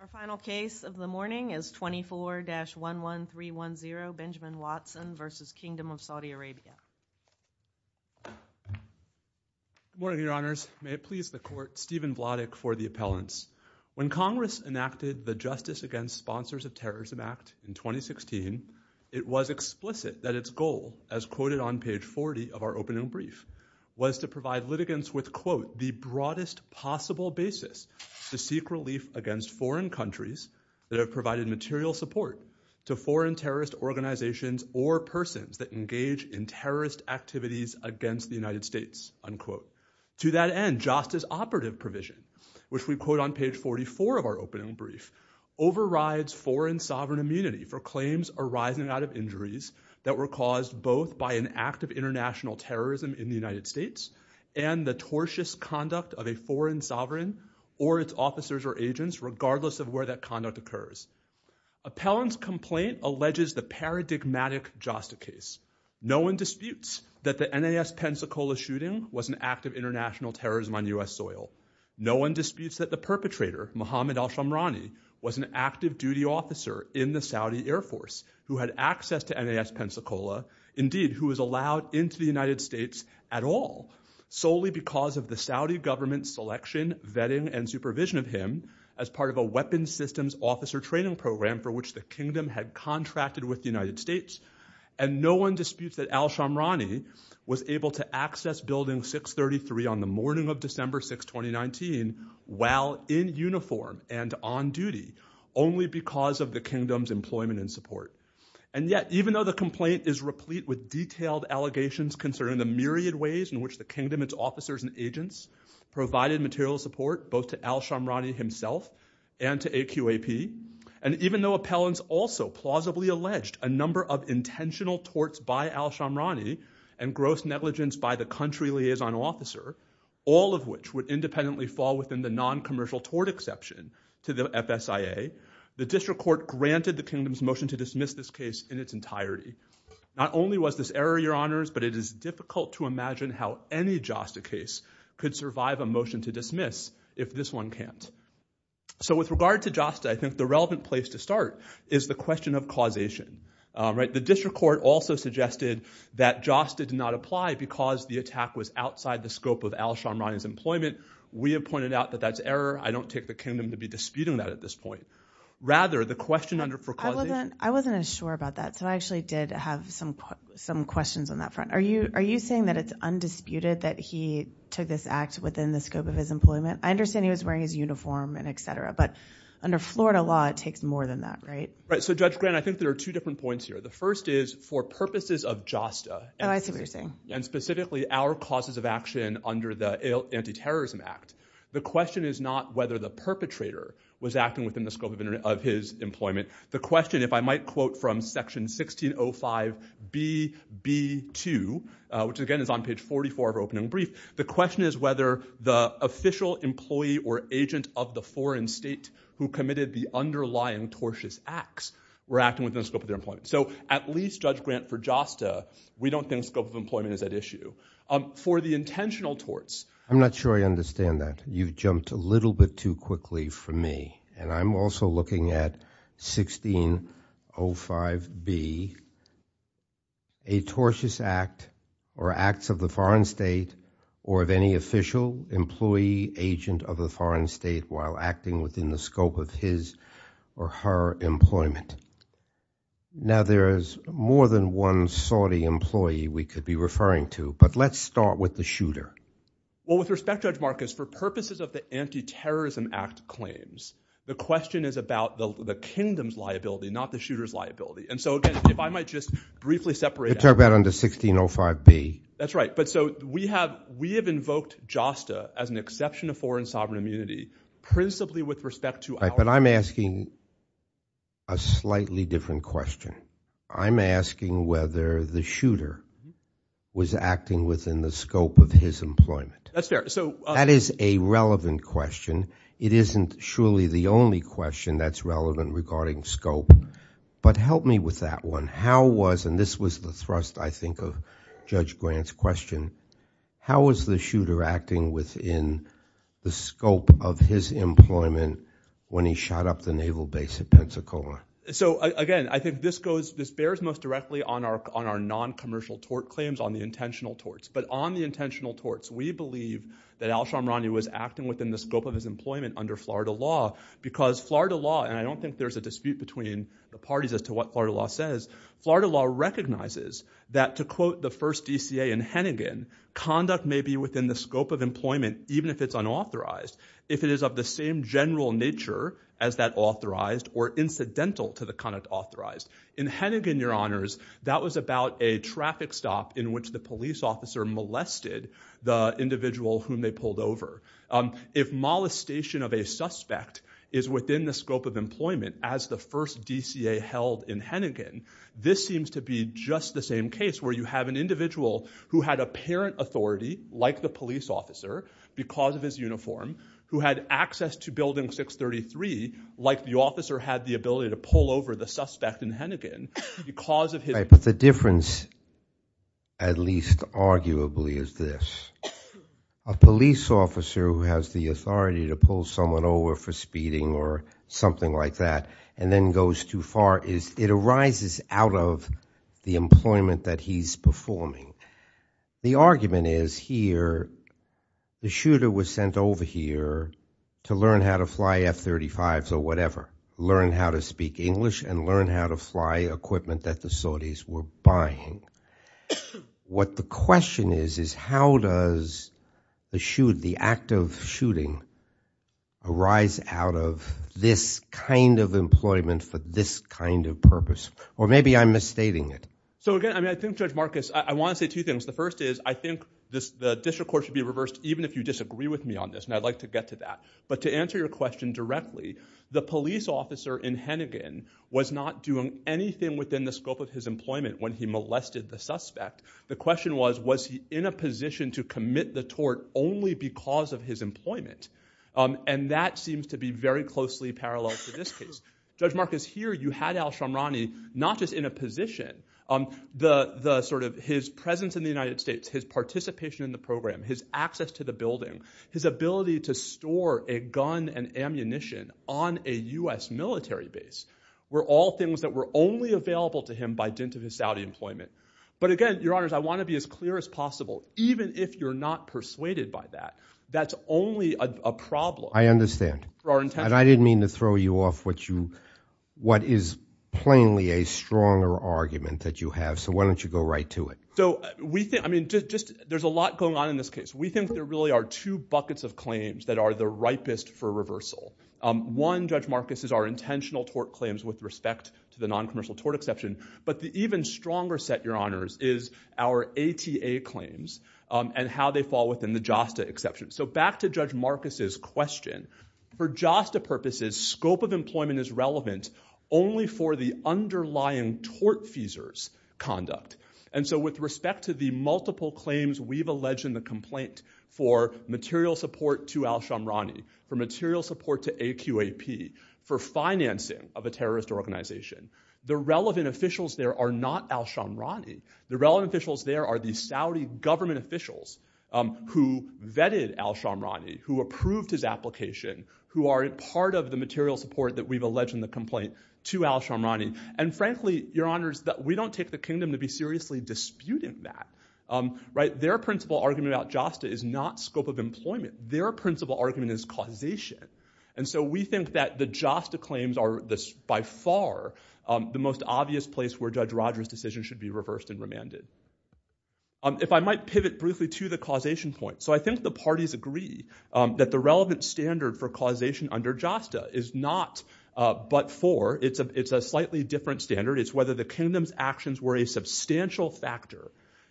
Our final case of the morning is 24-11310, Benjamin Watson v. Kingdom of Saudi Arabia. Good morning, Your Honors. May it please the Court, Stephen Vladek for the appellants. When Congress enacted the Justice Against Sponsors of Terrorism Act in 2016, it was explicit that its goal, as quoted on page 40 of our opening brief, was to provide litigants with, quote, the broadest possible basis to seek relief against foreign countries that have provided material support to foreign terrorist organizations or persons that engage in terrorist activities against the United States, unquote. To that end, justice operative provision, which we quote on page 44 of our opening brief, overrides foreign sovereign immunity for claims arising out of injuries that were caused both by an act of international terrorism in the United States and the tortious conduct of a foreign sovereign or its officers or agents, regardless of where that conduct occurs. Appellant's complaint alleges the paradigmatic JASTA case. No one disputes that the NAS Pensacola shooting was an act of international terrorism on U.S. soil. No one disputes that the perpetrator, Mohammad Alshamrani, was an active duty officer in the Saudi Air Force who had access to NAS Pensacola, indeed, who was allowed into the United States at all, solely because of the Saudi government's selection, vetting, and supervision of him as part of a weapons systems officer training program for which the kingdom had contracted with the United States. And no one disputes that Alshamrani was able to access building 633 on the morning of December 6, 2019, while in uniform and on duty, only because of the kingdom's employment and support. And yet, even though the complaint is replete with detailed allegations concerning the myriad ways in which the kingdom, its officers, and agents provided material support, both to Alshamrani himself and to AQAP, and even though appellants also plausibly alleged a number of intentional torts by Alshamrani and gross negligence by the country liaison officer, all of which would independently fall within the non-commercial tort exception to the FSIA, the district court granted the kingdom's motion to dismiss this case in its entirety. Not only was this error, your honors, but it is difficult to imagine how any JASTA case could survive a motion to dismiss if this one can't. So with regard to JASTA, I think the relevant place to start is the question of causation, right? The district court also suggested that JASTA did not apply because the attack was outside the scope of Alshamrani's employment. We have pointed out that that's error. I don't take the kingdom to be disputing that at this point. Rather, the question for causation- I wasn't as sure about that, so I actually did have some questions on that front. Are you saying that it's undisputed that he took this act within the scope of his employment? I understand he was wearing his uniform and et cetera, but under Florida law, it takes more than that, right? Right. So Judge Grant, I think there are two different points here. The first is for purposes of JASTA- Oh, I see what you're saying. And specifically our causes of action under the Anti-Terrorism Act, the question is not whether the perpetrator was acting within the scope of his employment. The question, if I might quote from section 1605BB2, which again is on page 44 of our opening brief, the question is whether the official employee or agent of the foreign state who committed the underlying tortious acts were acting within the scope of their employment. So at least, Judge Grant, for JASTA, we don't think scope of employment is at issue. For the intentional torts- I'm not sure I understand that. You've jumped a little bit too quickly for me. And I'm also looking at 1605B, a tortious act or acts of the foreign state or of any official employee agent of the foreign state while acting within the scope of his or her employment. Now there is more than one Saudi employee we could be referring to, but let's start with the shooter. Well, with respect, Judge Marcus, for purposes of the Anti-Terrorism Act claims, the question is about the kingdom's liability, not the shooter's liability. And so again, if I might just briefly separate- You're talking about under 1605B. That's right. But so we have invoked JASTA as an exception of foreign sovereign immunity principally with respect to- But I'm asking a slightly different question. I'm asking whether the shooter was acting within the scope of his employment. That's fair. So that is a relevant question. It isn't surely the only question that's relevant regarding scope. But help me with that one. How was- and this was the thrust, I think, of Judge Grant's question. How was the shooter acting within the scope of his employment when he shot up the naval base at Pensacola? So again, I think this goes- this bears most directly on our non-commercial tort claims, on the intentional torts. But on the intentional torts, we believe that Alshamrani was acting within the scope of his employment under Florida law because Florida law- and I don't think there's a dispute between the parties as to what Florida law says. Florida law recognizes that, to quote the first DCA in Hennigan, conduct may be within the scope of employment even if it's unauthorized. If it is of the same general nature as that authorized or incidental to the conduct authorized. In Hennigan, your honors, that was about a traffic stop in which the police officer molested the individual whom they pulled over. If molestation of a suspect is within the scope of employment as the first DCA held in Hennigan, this seems to be just the same case where you have an individual who had apparent authority, like the police officer, because of his uniform, who had access to building 633, like the officer had the ability to pull over the suspect in Hennigan, because of his- But the difference, at least arguably, is this. A police officer who has the authority to pull someone over for speeding or something like that and then goes too far is- it arises out of the employment that he's performing. The argument is here, the shooter was sent over here to learn how to fly F-35s or whatever, learn how to speak English, and learn how to fly equipment that the authorities were buying. What the question is, is how does the shoot- the act of shooting arise out of this kind of employment for this kind of purpose? Or maybe I'm misstating it. So again, I mean, I think Judge Marcus, I want to say two things. The first is, I think this- the district court should be reversed, even if you disagree with me on this, and I'd like to get to that. But to answer your question directly, the police officer in Hennigan was not doing anything within the scope of his employment when he molested the suspect. The question was, was he in a position to commit the tort only because of his employment? And that seems to be very closely parallel to this case. Judge Marcus, here you had al-Shamrani not just in a position, the sort of- his presence in the United States, his participation in the program, his access to the building, his ability to store a gun and ammunition on a U.S. military base were all things that were only available to him by dint of his Saudi employment. But again, Your Honors, I want to be as clear as possible. Even if you're not persuaded by that, that's only a problem. I understand. For our intention. And I didn't mean to throw you off what you- what is plainly a stronger argument that you have, so why don't you go right to it? So, we think- I mean, just- there's a lot going on in this case. We think there really are two buckets of claims that are the ripest for reversal. One, Judge Marcus, is our intentional tort claims with respect to the non-commercial tort exception. But the even stronger set, Your Honors, is our ATA claims and how they fall within the JASTA exception. So back to Judge Marcus' question. For JASTA purposes, scope of employment is relevant only for the underlying tort feasors conduct. And so with respect to the multiple claims we've alleged in the complaint for material support to Al-Shamrani, for material support to AQAP, for financing of a terrorist organization, the relevant officials there are not Al-Shamrani. The relevant officials there are the Saudi government officials who vetted Al-Shamrani, who approved his application, who are a part of the material support that we've alleged in the complaint to Al-Shamrani. And frankly, Your Honors, we don't take the kingdom to be seriously disputing that, right? Their principal argument about JASTA is not scope of employment. Their principal argument is causation. And so we think that the JASTA claims are by far the most obvious place where Judge Rogers' decision should be reversed and remanded. If I might pivot briefly to the causation point. So I think the parties agree that the relevant standard for causation under JASTA is not but for. It's a slightly different standard. It's whether the kingdom's actions were a substantial factor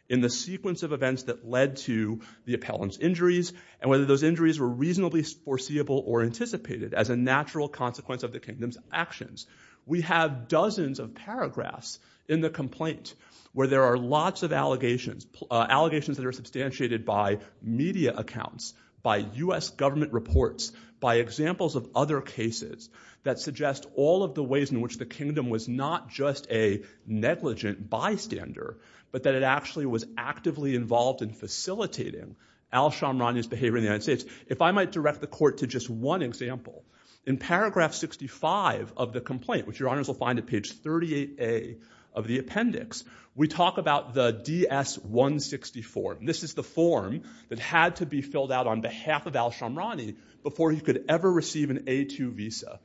in the sequence of events that led to the appellant's injuries and whether those injuries were reasonably foreseeable or anticipated as a natural consequence of the kingdom's actions. We have dozens of paragraphs in the complaint where there are lots of allegations, allegations that are substantiated by media accounts, by US government reports, by examples of other cases that suggest all of the ways in which the kingdom was not just a negligent bystander, but that it actually was actively involved in facilitating Alshamrani's behavior in the United States. If I might direct the court to just one example. In paragraph 65 of the complaint, which Your Honors will find at page 38A of the appendix, we talk about the DS-164. This is the form that had to be filled out on behalf of Alshamrani before he could ever receive an A2 visa.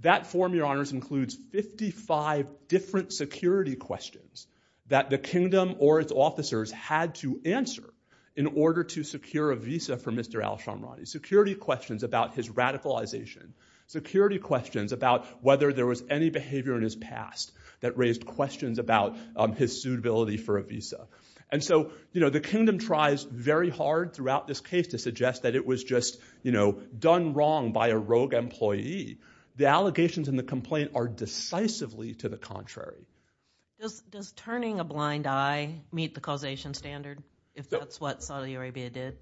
That form, Your Honors, includes 55 different security questions that the kingdom or its officers had to answer in order to secure a visa for Mr. Alshamrani. Security questions about his radicalization, security questions about whether there was any behavior in his past that raised questions about his suitability for a visa. And so, you know, the kingdom tries very hard throughout this case to suggest that it was just, you know, done wrong by a rogue employee. The allegations in the complaint are decisively to the contrary. Does turning a blind eye meet the causation standard, if that's what Saudi Arabia did?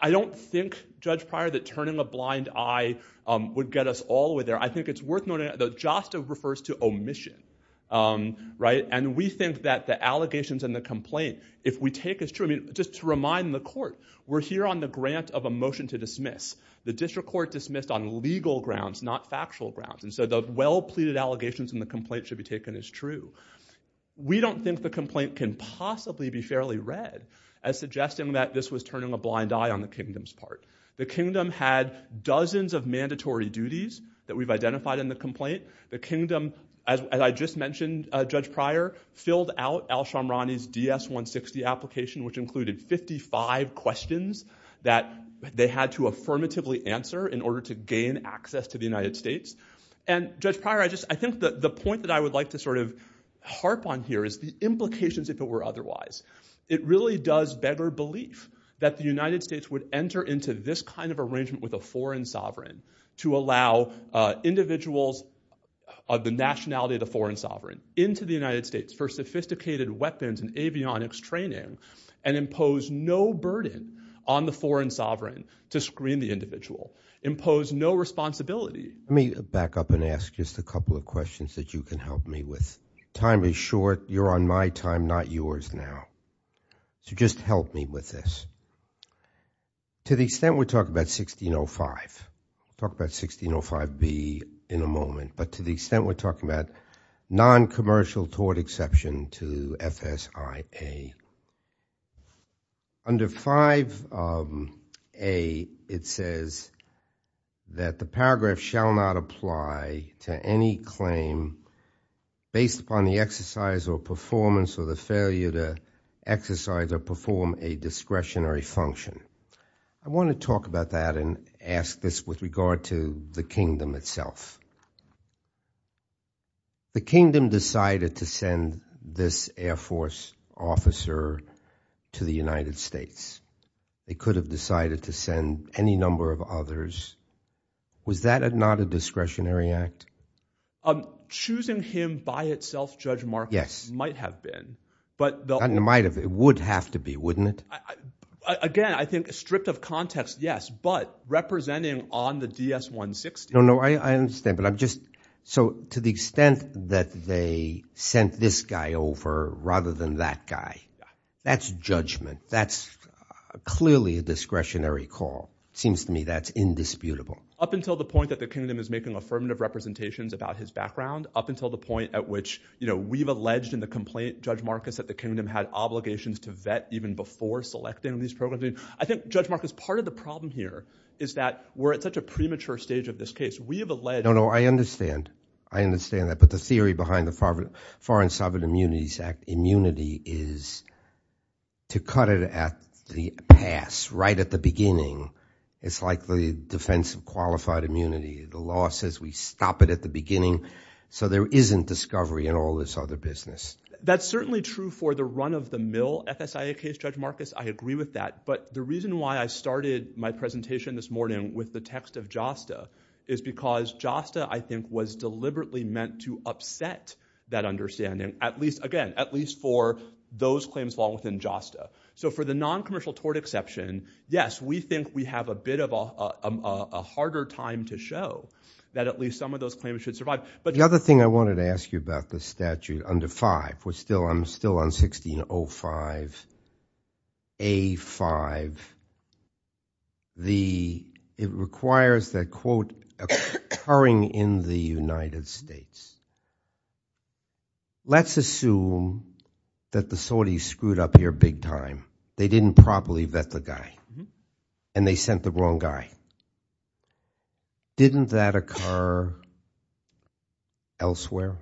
I don't think, Judge Pryor, that turning a blind eye would get us all the way there. I think it's worth noting that just refers to omission, right? And we think that the allegations in the complaint, if we take as true, I mean, just to remind the court, we're here on the grant of a motion to dismiss. The district court dismissed on legal grounds, not factual grounds. And so the well-pleaded allegations in the complaint should be taken as true. We don't think the complaint can possibly be fairly read as suggesting that this was turning a blind eye on the kingdom's part. The kingdom had dozens of mandatory duties that we've identified in the complaint. The kingdom, as I just mentioned, Judge Pryor, filled out Al-Shamrani's DS-160 application, which included 55 questions that they had to affirmatively answer in order to gain access to the United States. And, Judge Pryor, I just, I think that the point that I would like to sort of harp on here is the implications, if it were otherwise. It really does beggar belief that the United States would enter into this kind of arrangement with a foreign sovereign to allow individuals of the nationality of the foreign sovereign into the United States for sophisticated weapons and avionics training and impose no burden on the foreign sovereign to screen the individual, impose no responsibility. Let me back up and ask just a couple of questions that you can help me with. Time is short. You're on my time, not yours now. So just help me with this. To the extent we're talking about 1605, talk about 1605B in a moment, but to the extent we're talking about non-commercial tort exception to FSIA. Under 5A, it says that the paragraph shall not apply to any claim based upon the exercise or performance or the failure to exercise or perform a discretionary function. I want to talk about that and ask this with regard to the kingdom itself. The kingdom decided to send this Air Force officer to the United States. They could have decided to send any number of others. Was that not a discretionary act? I'm choosing him by itself, Judge Marcus, might have been, but... It would have to be, wouldn't it? Again, I think stripped of context, yes, but representing on the DS-160... No, no, I understand, but I'm just... So to the extent that they sent this guy over rather than that guy, that's judgment. That's clearly a discretionary call. It seems to me that's indisputable. Up until the point that the kingdom is making affirmative representations about his background, up until the point at which, you know, we've alleged in the complaint, Judge Marcus, that the kingdom had obligations to vet even before selecting these programs. I think, Judge Marcus, part of the problem here is that we're at such a premature stage of this case. We have alleged... No, no, I understand. I understand that, but the theory behind the Foreign Sovereign Immunities Act, immunity is to cut it at the pass, right at the beginning. It's like the defense of qualified immunity. The law says we stop it at the beginning, so there isn't discovery in all this other business. That's certainly true for the run-of-the-mill FSIA case, Judge Marcus. I agree with that, but the reason why I started my presentation this morning with the text of JASTA is because JASTA, I think, was deliberately meant to upset that understanding, at least, again, at least for those claims long within JASTA. So, for the non-commercial tort exception, yes, we think we have a bit of a harder time to show that at least some of those claims should survive. But the other thing I wanted to ask you about the statute under 5, which still, I'm still on 1605A5. It requires that, quote, occurring in the United States, let's assume that the Saudis screwed up here big-time. They didn't properly vet the guy, and they sent the wrong guy. Didn't that occur elsewhere?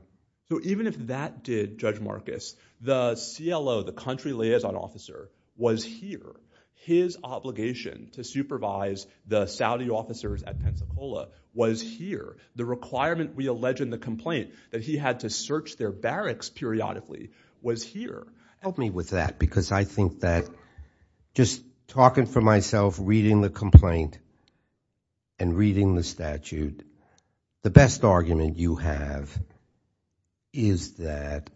So, even if that did, Judge Marcus, the CLO, the country liaison officer, was here. His obligation to supervise the Saudi officers at Pensacola was here. The requirement we allege in the complaint that he had to search their barracks periodically was here. Help me with that, because I think that, just talking for myself, reading the complaint and reading the statute, the best argument you have is that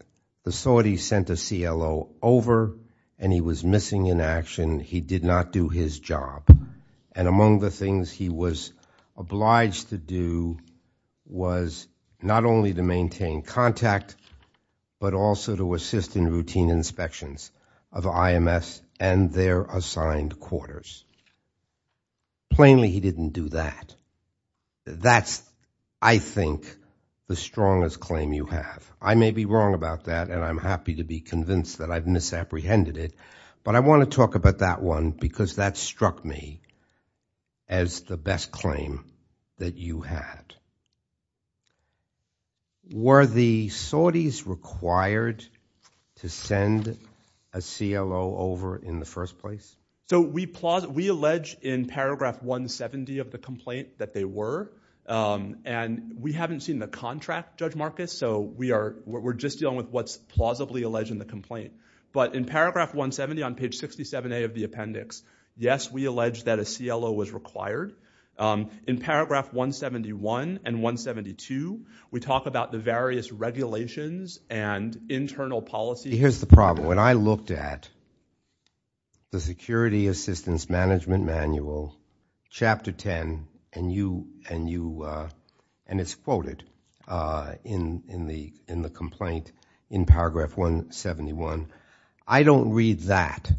the Saudis sent a CLO over, and he was missing in action. He did not do his job, and among the things he was obliged to do was not only to maintain contact, but also to assist in routine inspections of IMS and their assigned quarters. Plainly, he didn't do that. That's, I think, the strongest claim you have. I may be wrong about that, and I'm happy to be convinced that I've misapprehended it, but I want to talk about that one, because that struck me as the best claim that you had. Were the Saudis required to send a CLO over in the first place? So, we allege in paragraph 170 of the complaint that they were, and we haven't seen the contract, Judge Marcus, so we're just dealing with what's plausibly alleged in the complaint, but in paragraph 170 on page 67a of the appendix, yes, we allege that a CLO was required. In paragraph 171 and 172, we talk about the various regulations and internal policy. Here's the problem. When I looked at the Security Assistance Management Manual, chapter 10, and you, and you, and it's quoted in the, in the complaint in paragraph 171. I don't read that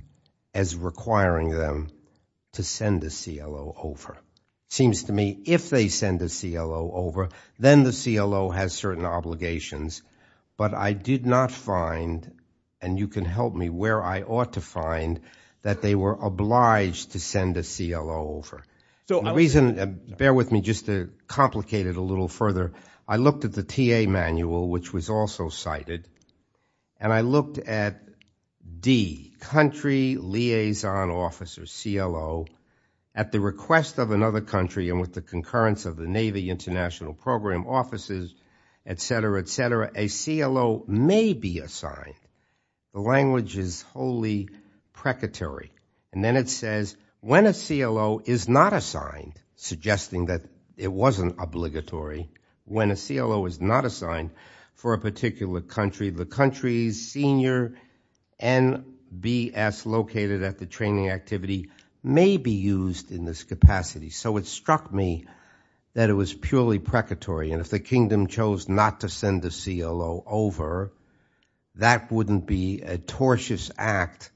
as requiring them to send a CLO over. Seems to me, if they send a CLO over, then the CLO has certain obligations, but I did not find, and you can help me where I ought to find, that they were obliged to send a CLO over. So, the reason, bear with me just to complicate it a little further. I looked at the TA manual, which was also cited, and I looked at D, country liaison officer, CLO, at the request of another country, and with the concurrence of the Navy International Program offices, etc., etc., a CLO may be assigned. The language is wholly precatory, and then it says, when a CLO is not assigned, suggesting that it wasn't obligatory, when a CLO is not assigned for a particular country, the country's senior NBS, located at the training activity, may be used in this capacity. So, it struck me that it was purely precatory, and if the kingdom chose not to send a CLO over, that wouldn't be a tortious act.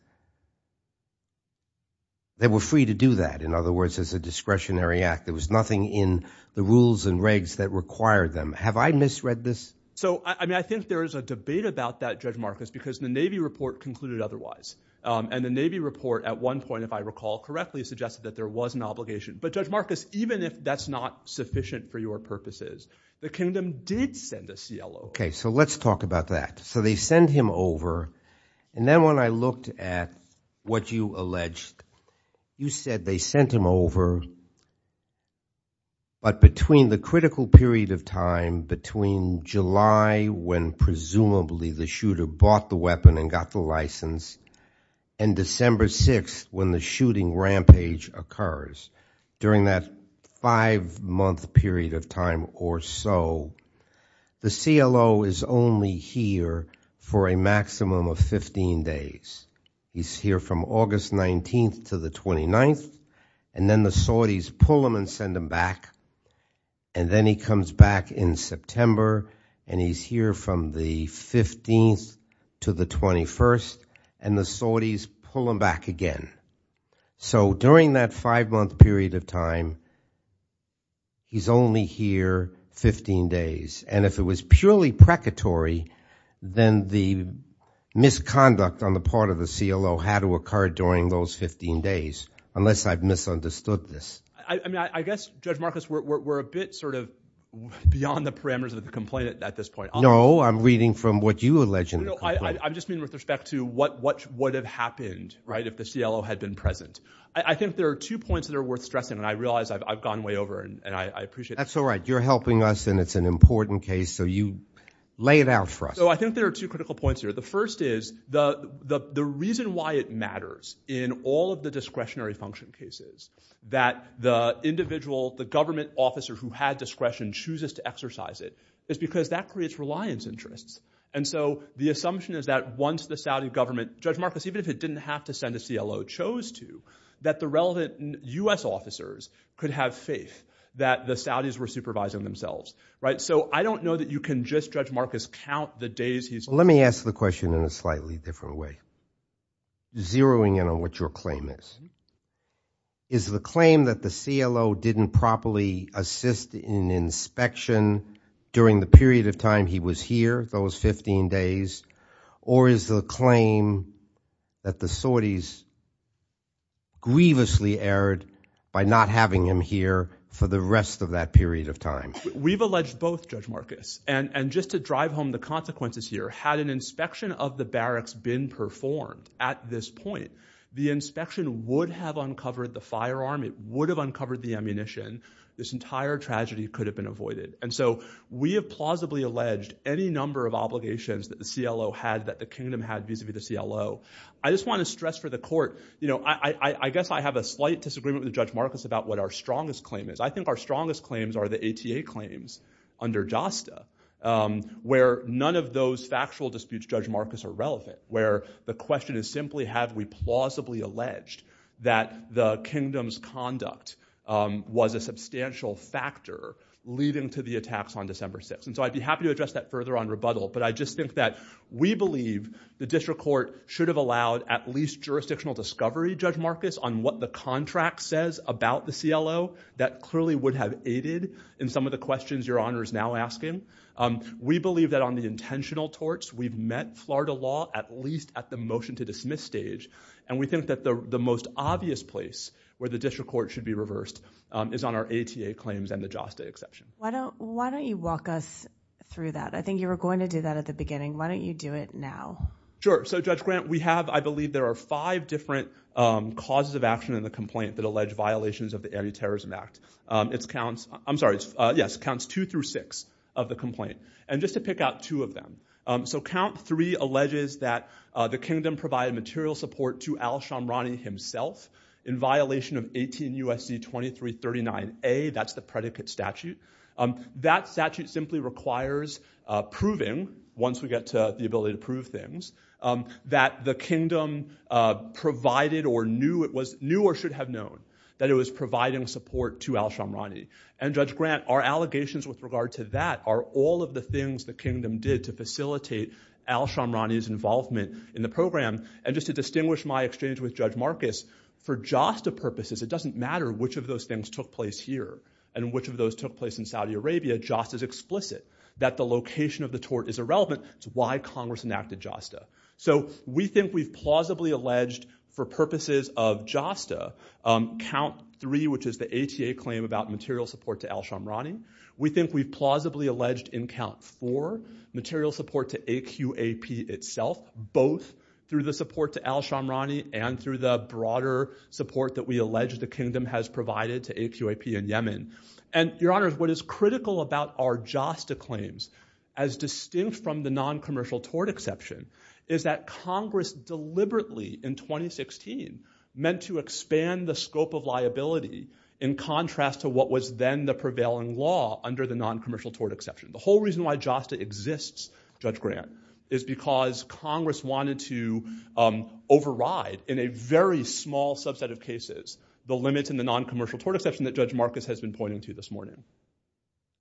They were free to do that, in other words, as a discretionary act. There was nothing in the rules and regs that required them. Have I misread this? So, I mean, I think there is a debate about that, Judge Marcus, because the Navy report concluded otherwise, and the Navy report, at one point, if I recall correctly, suggested that there was an obligation. But, Judge Marcus, even if that's not sufficient for your purposes, the kingdom did send a CLO. Okay, so let's talk about that. So, they send him over, and then when I looked at what you alleged, you said they sent him over, but between the critical period of time, between July, when presumably the shooter bought the weapon and got the license, and December 6th, when the shooting rampage occurs, during that five-month period of time or so, the CLO is only here for a maximum of 15 days. He's here from August 19th to the 29th, and then the Saudis pull him and send him back, and then he comes back in September, and he's here from the 15th to the 21st, and the Saudis pull him back again. So, during that five-month period of time, he's only here 15 days, and if it was purely precatory, then the misconduct on the part of the CLO had to occur during those 15 days, unless I've misunderstood this. I mean, I guess, Judge Marcus, we're a bit sort of beyond the parameters of the complaint at this point. No, I'm reading from what you allege in the complaint. No, I just mean with respect to what would have happened, right, if the CLO had been present. I think there are two points that are worth stressing, and I realize I've gone way over, and I appreciate it. That's all right. You're helping us, and it's an important case, so you lay it out for us. So, I think there are two critical points here. The first is, the reason why it matters in all of the discretionary function cases, that the individual, the government officer who had discretion, chooses to exercise it, is because that creates reliance interests. And so, the assumption is that once the Saudi government, Judge Marcus, even if it didn't have to send a CLO, chose to, that the relevant U.S. officers could have faith that the Saudis were supervising themselves, right? So, I don't know that you can just, Judge Marcus, count the days he's- Let me ask the question in a slightly different way. Zeroing in on what your claim is. Is the claim that the CLO didn't properly assist in inspection during the period of time he was here, those 15 days, or is the claim that the Saudis grievously erred by not having him here for the rest of that period of time? We've alleged both, Judge Marcus. And just to drive home the consequences here, had an inspection of the barracks been performed at this point, the inspection would have uncovered the firearm, it would have uncovered the ammunition, this entire tragedy could have been avoided. And so, we have plausibly alleged any number of obligations that the CLO had, that the kingdom had vis-a-vis the CLO. I just want to stress for the court, you know, I guess I have a slight disagreement with Judge Marcus about what our strongest claim is. I think our strongest claims are the ATA claims under JASTA, where none of those factual disputes, Judge Marcus, are relevant. Where the question is simply, have we plausibly alleged that the kingdom's conduct was a substantial factor leading to the attacks on December 6th? And so, I'd be happy to address that further on rebuttal, but I just think that we believe the district court should have allowed at least jurisdictional discovery, Judge Marcus, on what the contract says about the CLO. That clearly would have aided in some of the questions Your Honor is now asking. We believe that on the intentional torts, we've met Florida law at least at the motion-to-dismiss stage. And we think that the most obvious place where the district court should be reversed is on our ATA claims and the JASTA exception. Why don't, why don't you walk us through that? I think you were going to do that at the beginning. Why don't you do it now? Sure. So, Judge Grant, we have, I believe there are five different causes of action in the complaint that allege violations of the Anti-Terrorism Act. It's counts, I'm sorry, it's, yes, counts two through six of the complaint. And just to pick out two of them. So, count three alleges that the kingdom provided material support to Al-Shamrani himself in violation of 18 U.S.C. 2339a, that's the predicate statute. That statute simply requires proving, once we get to the ability to prove things, that the kingdom provided or knew it was, knew or should have known that it was providing support to Al-Shamrani. And, Judge Grant, our allegations with regard to that are all of the things the kingdom did to facilitate Al-Shamrani's involvement in the program. And just to distinguish my exchange with Judge Marcus, for JASTA purposes, it doesn't matter which of those things took place here and which of those took place in Saudi Arabia. JASTA is explicit that the location of the tort is irrelevant. It's why Congress enacted JASTA. So, we think we've plausibly alleged, for purposes of JASTA, count three, which is the ATA claim about material support to Al-Shamrani. We think we've plausibly alleged in count four, material support to AQAP itself, both through the support to Al-Shamrani and through the broader support that we allege the kingdom has provided to AQAP in Yemen. And, Your Honor, what is critical about our JASTA claims, as well, is that Congress, deliberately, in 2016, meant to expand the scope of liability in contrast to what was then the prevailing law under the non-commercial tort exception. The whole reason why JASTA exists, Judge Grant, is because Congress wanted to override, in a very small subset of cases, the limits in the non-commercial tort exception that Judge Marcus has been pointing to this morning.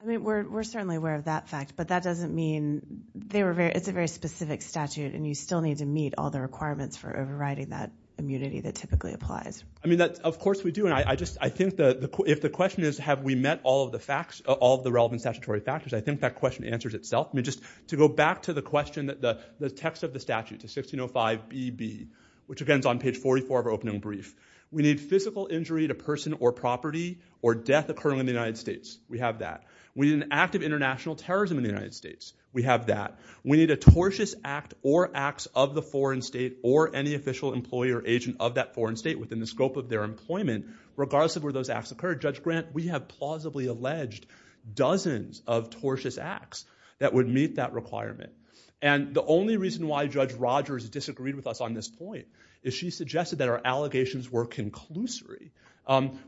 I mean, we're certainly aware of that fact, but that doesn't mean, they were very, it's a very specific statute, and you still need to meet all the requirements for overriding that immunity that typically applies. I mean, that's, of course we do, and I just, I think that if the question is, have we met all of the facts, all the relevant statutory factors, I think that question answers itself. I mean, just to go back to the question that the text of the statute, to 1605 BB, which again is on page 44 of our opening brief, we need physical injury to person or property or death occurring in the United States. We have that. We need an act of international terrorism in the United States. We have that. We need a tortious act or acts of the foreign state or any official employee or agent of that foreign state within the scope of their employment, regardless of where those acts occurred. Judge Grant, we have plausibly alleged dozens of tortious acts that would meet that requirement, and the only reason why Judge Rogers disagreed with us on this point is she suggested that our allegations were conclusory.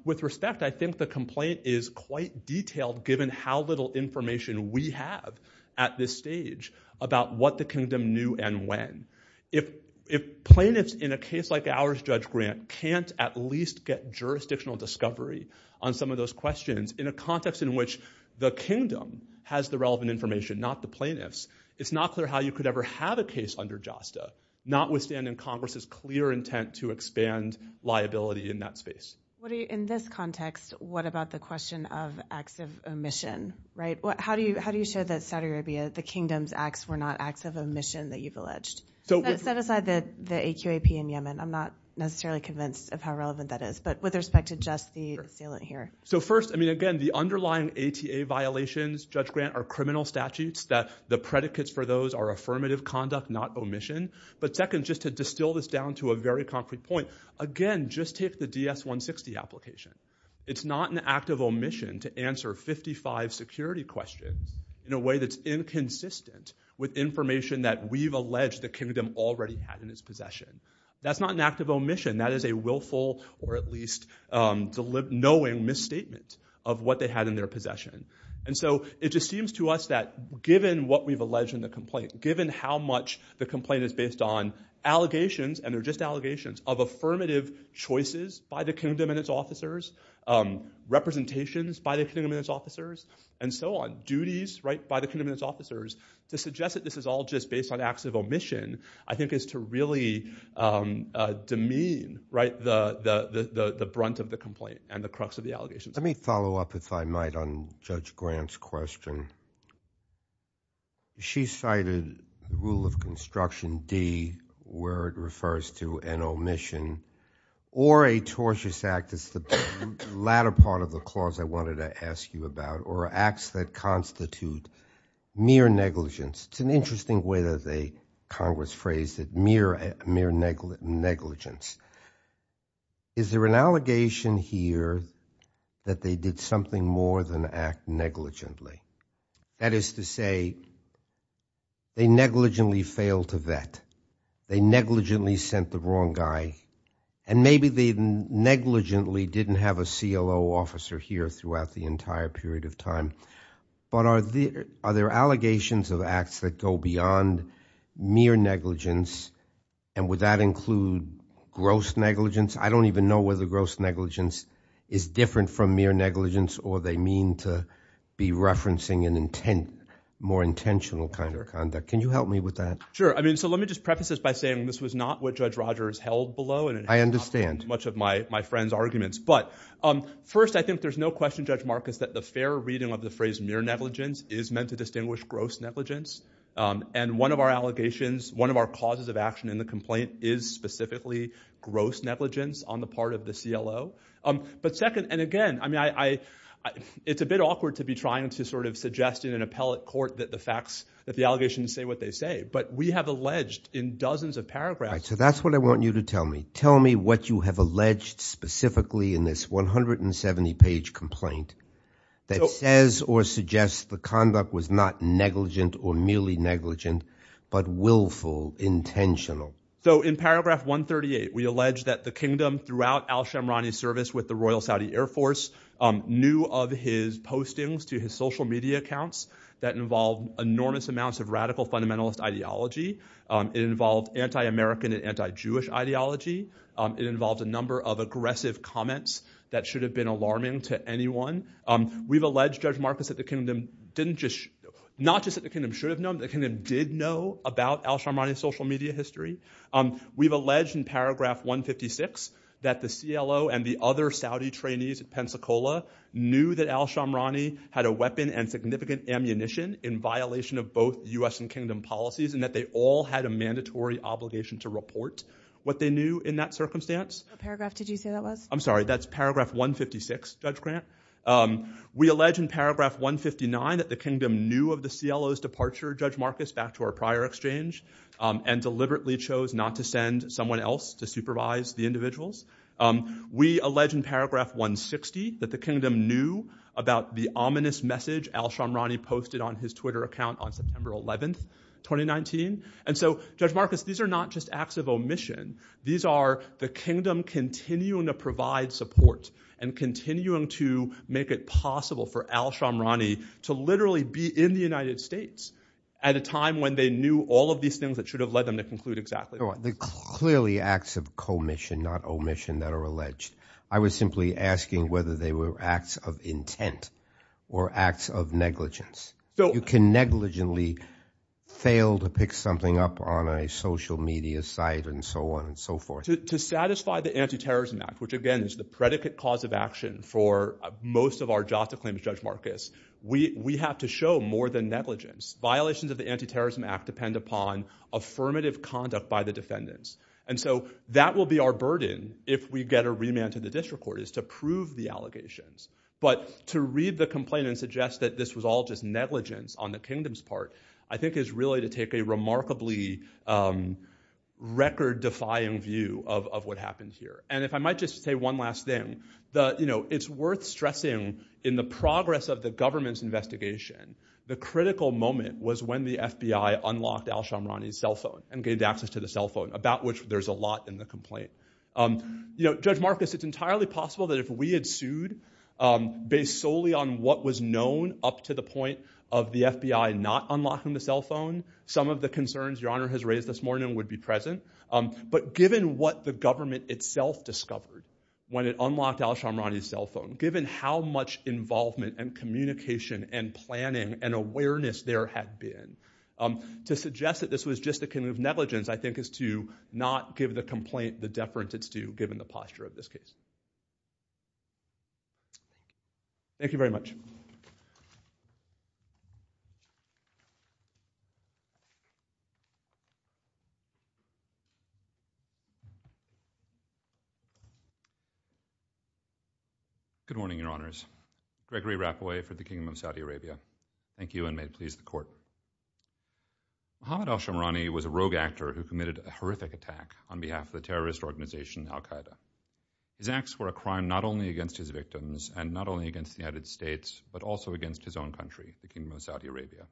With respect, I think the complaint is quite detailed, given how little information we have at this stage about what the kingdom knew and when. If plaintiffs in a case like ours, Judge Grant, can't at least get jurisdictional discovery on some of those questions in a context in which the kingdom has the relevant information, not the plaintiffs. It's not clear how you could ever have a case under JASTA not withstanding Congress's clear intent to expand liability in that space. In this context, what about the question of acts of omission, right? How do you show that Saudi Arabia, the kingdom's acts, were not acts of omission that you've alleged? So let's set aside the AQAP in Yemen. I'm not necessarily convinced of how relevant that is, but with respect to just the assailant here. So first, I mean, again, the underlying ATA violations, Judge Grant, are criminal statutes that the predicates for those are affirmative conduct, not omission. But second, just to distill this down to a very concrete point, again, just take the DS-160 application. It's not an act of omission to answer 55 security questions in a way that's inconsistent with information that we've alleged the kingdom already had in its possession. That's not an act of omission. That is a willful or at least knowing misstatement of what they had in their possession. And so it just seems to us that given what we've alleged in the complaint, given how much the complaint is based on allegations, and they're just allegations, of affirmative choices by the kingdom and its officers, representations by the kingdom and its officers, and so on, duties, right, by the kingdom and its officers, to suggest that this is all just based on acts of omission, I think is to really demean, right, the brunt of the complaint and the crux of the allegations. Let me follow up, if I might, on Judge Grant's question. She cited the rule of construction D, where it refers to an omission, or a tortious act, as the latter part of the clause I wanted to ask you about, or acts that constitute mere negligence. It's an interesting way that they, Congress, phrased it, mere negligence. Is there an allegation here that they did something more than act negligently? That is to say, they negligently failed to vet, they negligently sent the wrong guy, and maybe they negligently didn't have a CLO officer here throughout the entire period of time. But are there allegations of acts that go beyond mere negligence, and would that include gross negligence? I don't even know whether gross negligence is different from mere negligence, or they mean to be referencing an intent, more intentional kind of conduct. Can you help me with that? Sure. I mean, so let me just preface this by saying this was not what Judge Rogers held below, and I understand much of my friends' arguments. But, um, first, I think there's no question, Judge Marcus, that the fair reading of the phrase mere negligence is meant to distinguish gross negligence. And one of our allegations, one of our causes of action in the complaint, is specifically gross negligence on the part of the CLO. Um, but second, and again, I mean, I, I, it's a bit awkward to be trying to sort of suggest in an appellate court that the facts, that the allegations say what they say, but we have alleged in dozens of paragraphs. So that's what I want you to tell me. Tell me what you have alleged specifically in this 170-page complaint that says or suggests the conduct was not negligent or merely negligent, but willful, intentional. So in paragraph 138, we allege that the kingdom throughout al-Shamrani's service with the Royal Saudi Air Force knew of his postings to his social media accounts that involve enormous amounts of radical fundamentalist ideology. It involved anti-American and anti-Jewish ideology. It involved a number of aggressive comments that should have been alarming to anyone. We've alleged, Judge Marcus, that the kingdom didn't just, not just that the kingdom should have known, the kingdom did know about al-Shamrani's social media history. We've alleged in paragraph 156 that the CLO and the other Saudi trainees at Pensacola knew that al-Shamrani had a weapon and significant ammunition in violation of both US and kingdom policies, and that they all had a mandatory obligation to report what they knew in that circumstance. What paragraph did you say that was? I'm sorry, that's paragraph 156, Judge Grant. We allege in paragraph 159 that the kingdom knew of the CLO's departure, Judge Marcus, back to our prior exchange, and deliberately chose not to send someone else to supervise the individuals. We allege in paragraph 160 that the kingdom knew about the ominous message al-Shamrani posted on his Twitter account on September 11th, 2019, and so, Judge Marcus, these are not just acts of omission. These are the kingdom continuing to provide support and continuing to make it possible for al-Shamrani to literally be in the United States at a time when they knew all of these things that should have led them to conclude exactly. Clearly acts of commission, not omission, that are alleged. I was simply asking whether they were acts of intent or acts of negligence. You can negligently fail to pick something up on a social media site and so on and so forth. To satisfy the Anti-Terrorism Act, which again is the predicate cause of action for most of our JASTA claims, Judge Marcus, we have to show more than negligence. Violations of the Anti-Terrorism Act depend upon affirmative conduct by the defendants, and so that will be our burden if we get a remand to the district court, is to prove the allegations, but to read the complaint and suggest that this was all just negligence on the kingdom's part, I think is really to take a remarkably record-defying view of what happened here. And if I might just say one last thing, the, you know, it's worth stressing in the progress of the government's investigation, the critical moment was when the FBI unlocked al-Shamrani's cell phone and gave access to the cell phone, about which there's a lot in the complaint. You know, Judge Marcus, it's entirely possible that if we had sued based solely on what was known up to the point of the FBI not unlocking the cell phone, some of the concerns Your Honor has raised this morning would be present. But given what the government itself discovered when it unlocked al-Shamrani's cell phone, given how much involvement and communication and planning and awareness there had been, to suggest that this was just a kind of negligence, I think is to not give the complaint the deference it's due, given the posture of this case. Thank you very much. Good morning, Your Honors. Gregory Rapaway for the Kingdom of Saudi Arabia. Thank you and may it please the Court. Mohamed al-Shamrani was a rogue actor who committed a horrific attack on behalf of the terrorist organization al-Qaeda. His acts were a crime not only against his victims and not only against the United States, but also against his own country, the Kingdom of Saudi Arabia.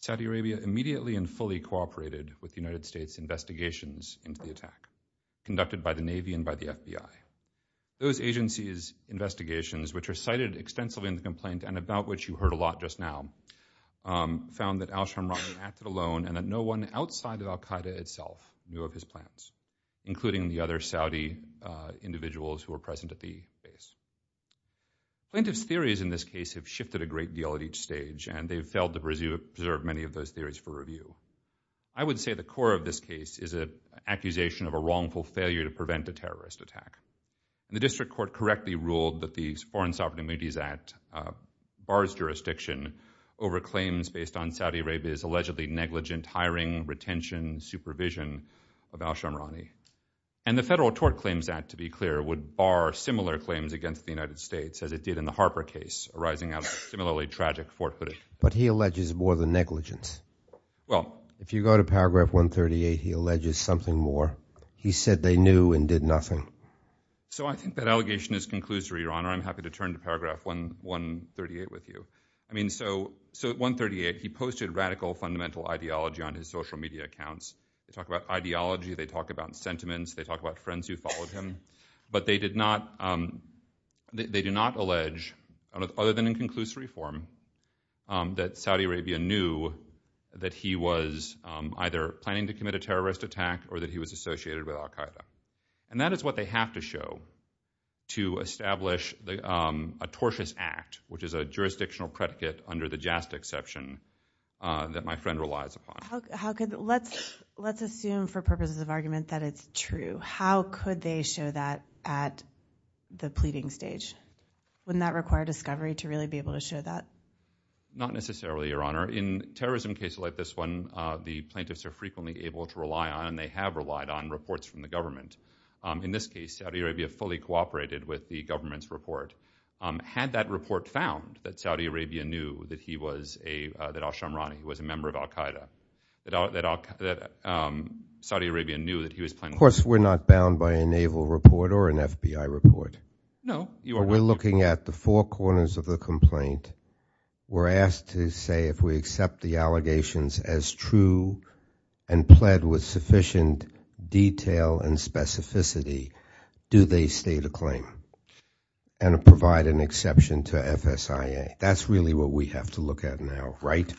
Saudi Arabia immediately and fully cooperated with the United States investigations into the attack, conducted by the Navy and by the FBI. Those agencies' investigations, which are cited extensively in the complaint and about which you heard a lot just now, found that al-Shamrani acted alone and that no one outside of al-Qaeda itself knew of his plans, including the other Saudi individuals who were present at the base. Plaintiffs' theories in this case have shifted a great deal at each stage, and they've failed to preserve many of those theories for review. I would say the core of this case is an accusation of a wrongful failure to prevent a terrorist attack. The District Court correctly ruled that the Foreign Sovereign Immunities Act, bars jurisdiction over claims based on Saudi Arabia's allegedly negligent hiring, retention, supervision of al-Shamrani. And the Federal Tort Claims Act, to be clear, would bar similar claims against the United States as it did in the Harper case, arising out of similarly tragic forefootage. But he alleges more than negligence. Well, if you go to paragraph 138, he alleges something more. He said they knew and did nothing. So I think that allegation is conclusory, Your Honor. I'm happy to turn to paragraph 138 with you. I mean, so at 138, he posted radical fundamental ideology on his social media accounts. They talk about ideology, they talk about sentiments, they talk about friends who followed him, but they did not they do not allege, other than in conclusory form, that Saudi Arabia knew that he was either planning to commit a terrorist attack or that he was associated with al-Qaeda. And that is what they have to show to establish a tortious act, which is a jurisdictional predicate under the JASTA exception that my friend relies upon. How could, let's let's assume for purposes of argument that it's true. How could they show that at the pleading stage? Wouldn't that require discovery to really be able to show that? Not necessarily, Your Honor. In terrorism cases like this one, the plaintiffs are frequently able to rely on, and they have relied on, reports from the government. In this case, Saudi Arabia fully cooperated with the government's report. Had that report found that Saudi Arabia knew that he was a, that al-Shamrani, who was a member of al-Qaeda, that Saudi Arabia knew that he was planning... Of course, we're not bound by a naval report or an FBI report. No, Your Honor. We're looking at the four corners of the complaint. We're asked to say if we accept the allegations as true and pled with sufficient detail and specificity, do they state a claim and provide an exception to FSIA? That's really what we have to look at now, right?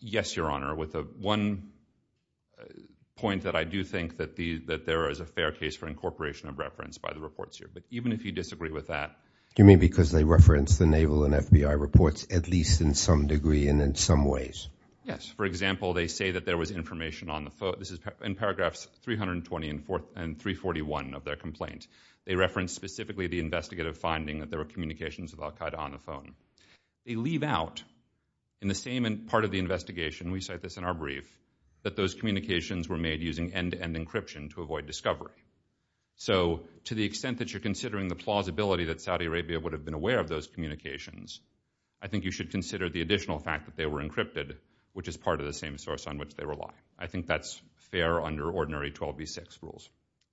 Yes, Your Honor, with a one point that I do think that the, that there is a fair case for incorporation of reference by the reports here. But even if you disagree with that... Do you mean because they reference the naval and FBI reports at least in some degree and in some ways? Yes, for example, they say that there was information on the phone. This is in paragraphs 320 and 341 of their complaint. They referenced specifically the investigative finding that there were communications with al-Qaeda on the phone. They leave out in the same part of the investigation, we cite this in our brief, that those communications were made using end-to-end encryption to avoid discovery. So to the extent that you're considering the plausibility that Saudi Arabia would have been aware of those communications, I think you should consider the additional fact that they were encrypted, which is part of the same source on which they rely. I think that's fair under ordinary 12b6 rules.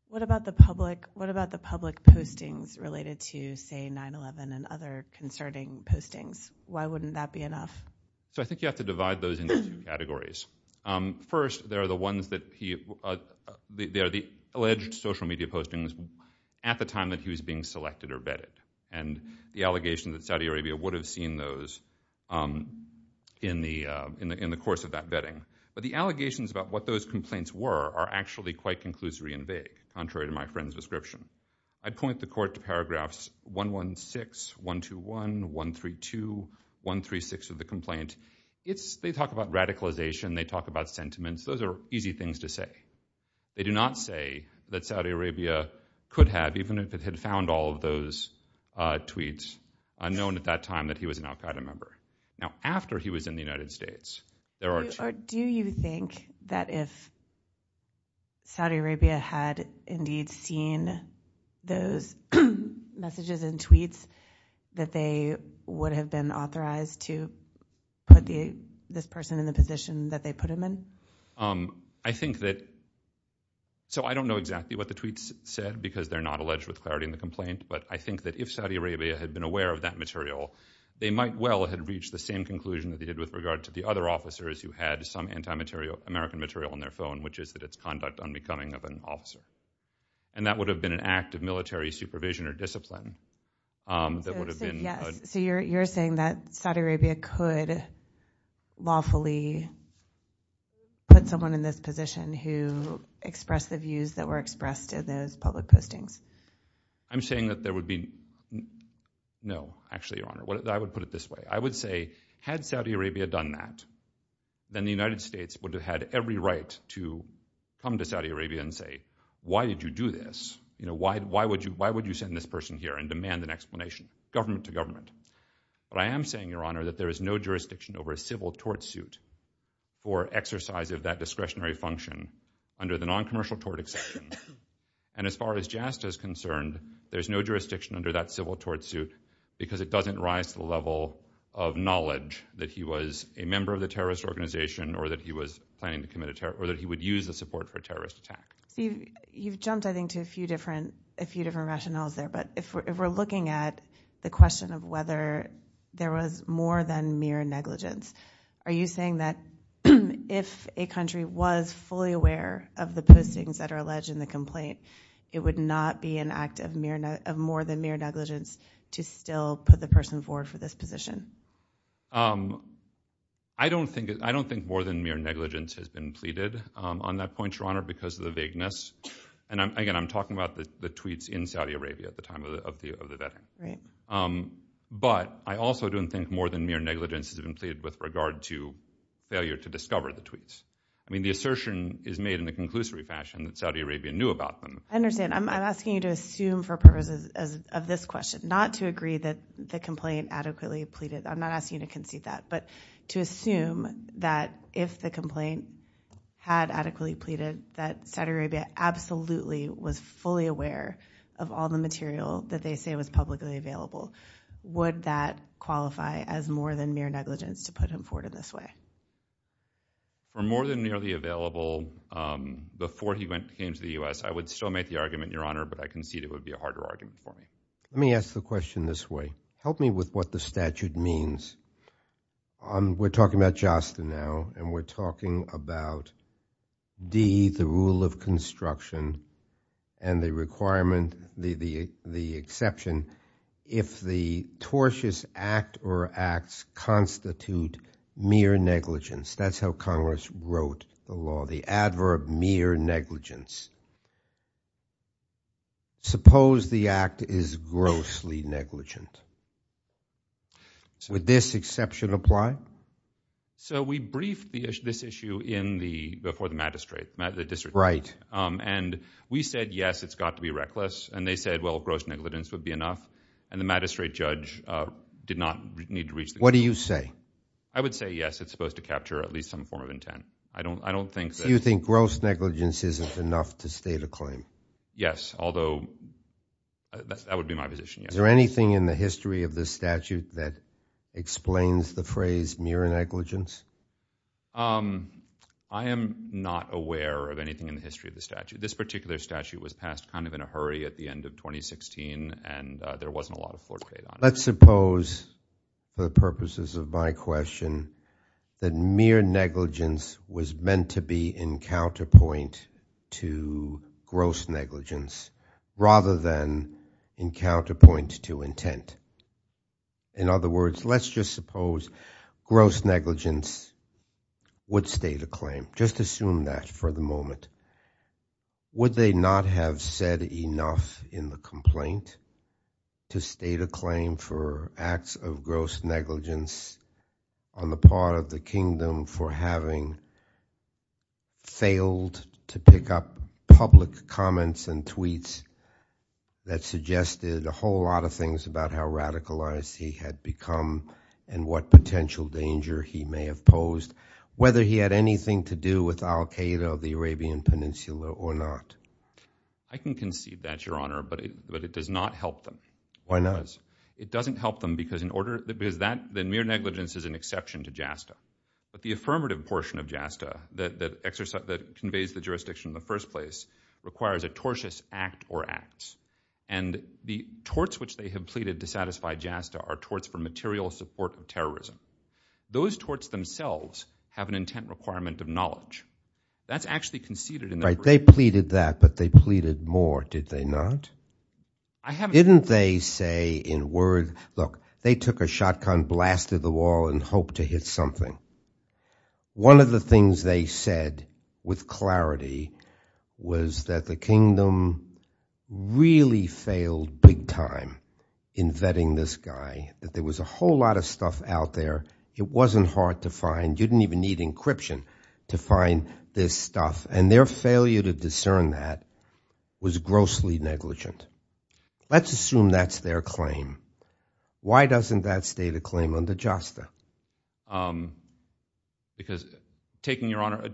What about the public? What about the public postings related to, say, 9-11 and other concerning postings? Why wouldn't that be enough? So I think you have to divide those into two categories. First, there are the ones that he, they are the alleged social media postings at the time that he was being selected or vetted and the allegations that Saudi Arabia would have seen those in the, in the course of that vetting. But the allegations about what those complaints were are actually quite conclusory and vague, contrary to my friend's description. I'd point the court to paragraphs 116, 121, 132, 136 of the complaint. It's, they talk about radicalization. They talk about sentiments. Those are easy things to say. They do not say that Saudi Arabia could have, even if it had found all of those tweets known at that time that he was an al-Qaeda member. Now, after he was in the United States, there are... Do you think that if Saudi Arabia had indeed seen those messages and tweets that they would have been authorized to put the, this person in the position that they put him in? I think that, so I don't know exactly what the tweets said because they're not alleged with clarity in the complaint, but I think that if Saudi Arabia had been aware of that material, they might well have reached the same conclusion that they did with regard to the other officers who had some anti-material, American material on their phone, which is that it's conduct unbecoming of an officer. And that would have been an act of military supervision or discipline. So you're saying that Saudi Arabia could lawfully put someone in this position who expressed the views that were expressed in those public postings? I'm saying that there would be... No, actually, Your Honor, I would put it this way. I would say, had Saudi Arabia done that, then the United States would have had every right to come to Saudi Arabia and say, why did you do this? You know, why would you send this person here and demand an explanation, government to government? But I am saying, Your Honor, that there is no jurisdiction over a civil tort suit for exercise of that discretionary function under the non-commercial tort exception. And as far as JASTA is concerned, there's no jurisdiction under that civil tort suit because it doesn't rise to the level of knowledge that he was a member of the terrorist organization or that he was planning to commit a terror... or that he would use the support for a terrorist attack. You've jumped, I think, to a few different... a few different rationales there. But if we're looking at the question of whether there was more than mere negligence, are you saying that if a country was fully aware of the postings that are alleged in the complaint, it would not be an act of mere... of more than mere negligence to still put the person forward for this position? I don't think... I don't think more than mere negligence has been pleaded on that point, Your Honor, because of the vagueness. And again, I'm talking about the tweets in Saudi Arabia at the time of the... of the vetting. But I also don't think more than mere negligence has been pleaded with regard to failure to discover the tweets. I mean, the assertion is made in the conclusory fashion that Saudi Arabia knew about them. I understand. I'm asking you to assume for purposes of this question not to agree that the complaint adequately pleaded. I'm not asking you to concede that, but to assume that if the complaint had adequately pleaded that Saudi Arabia absolutely was fully aware of all the material that they say was publicly available, would that qualify as more than mere negligence to put him forward in this way? For more than merely available before he went... came to the U.S., I would still make the argument, Your Honor, but I concede it would be a harder argument for me. Let me ask the question this way. Help me with what the statute means. We're talking about JASTA now, and we're talking about D, the rule of construction, and the requirement... the... the exception, if the tortious act or acts constitute mere negligence. That's how Congress wrote the law, the adverb mere negligence. Suppose the act is grossly negligent. Would this exception apply? So we briefed the issue... this issue in the... before the magistrate... the district... Right. And we said, yes, it's got to be reckless, and they said, well, gross negligence would be enough, and the magistrate judge did not need to reach the... What do you say? I would say, yes, it's supposed to capture at least some form of intent. I don't... I don't think... So you think gross negligence isn't enough to state a claim? Yes, although that would be my position, yes. Is there anything in the history of this statute that explains the phrase mere negligence? I am not aware of anything in the history of the statute. This particular statute was passed kind of in a hurry at the end of 2016, and there wasn't a lot of foreplay on it. Let's suppose, for the purposes of my question, that mere negligence was meant to be in counterpoint to gross negligence, rather than in counterpoint to intent. In other words, let's just suppose gross negligence would state a claim. Just assume that for the moment. Would they not have said enough in the complaint to state a claim for acts of gross negligence on the part of the kingdom for having failed to pick up public comments and tweets that suggested a whole lot of things about how radicalized he had become and what potential danger he may have posed, whether he had anything to do with al-Qaeda or the Arabian Peninsula or not. I can concede that, Your Honor, but it does not help them. Why not? It doesn't help them because in order... because that... then mere negligence is an exception to JASTA. But the affirmative portion of JASTA that conveys the jurisdiction in the first place requires a tortious act or acts. And the torts which they have pleaded to satisfy JASTA are torts for material support of terrorism. Those torts themselves have an intent requirement of knowledge. That's actually conceded in the... Right, they pleaded that, but they pleaded more, did they not? Didn't they say in word... look, they took a shotgun, blasted the wall, and hoped to hit something. One of the things they said with clarity was that the kingdom really failed big-time in vetting this guy, that there was a whole lot of stuff out there. It wasn't hard to find. You didn't even need encryption to find this stuff. And their failure to discern that was grossly negligent. Let's assume that's their claim. Why doesn't that stay the claim under JASTA? Because taking your honor...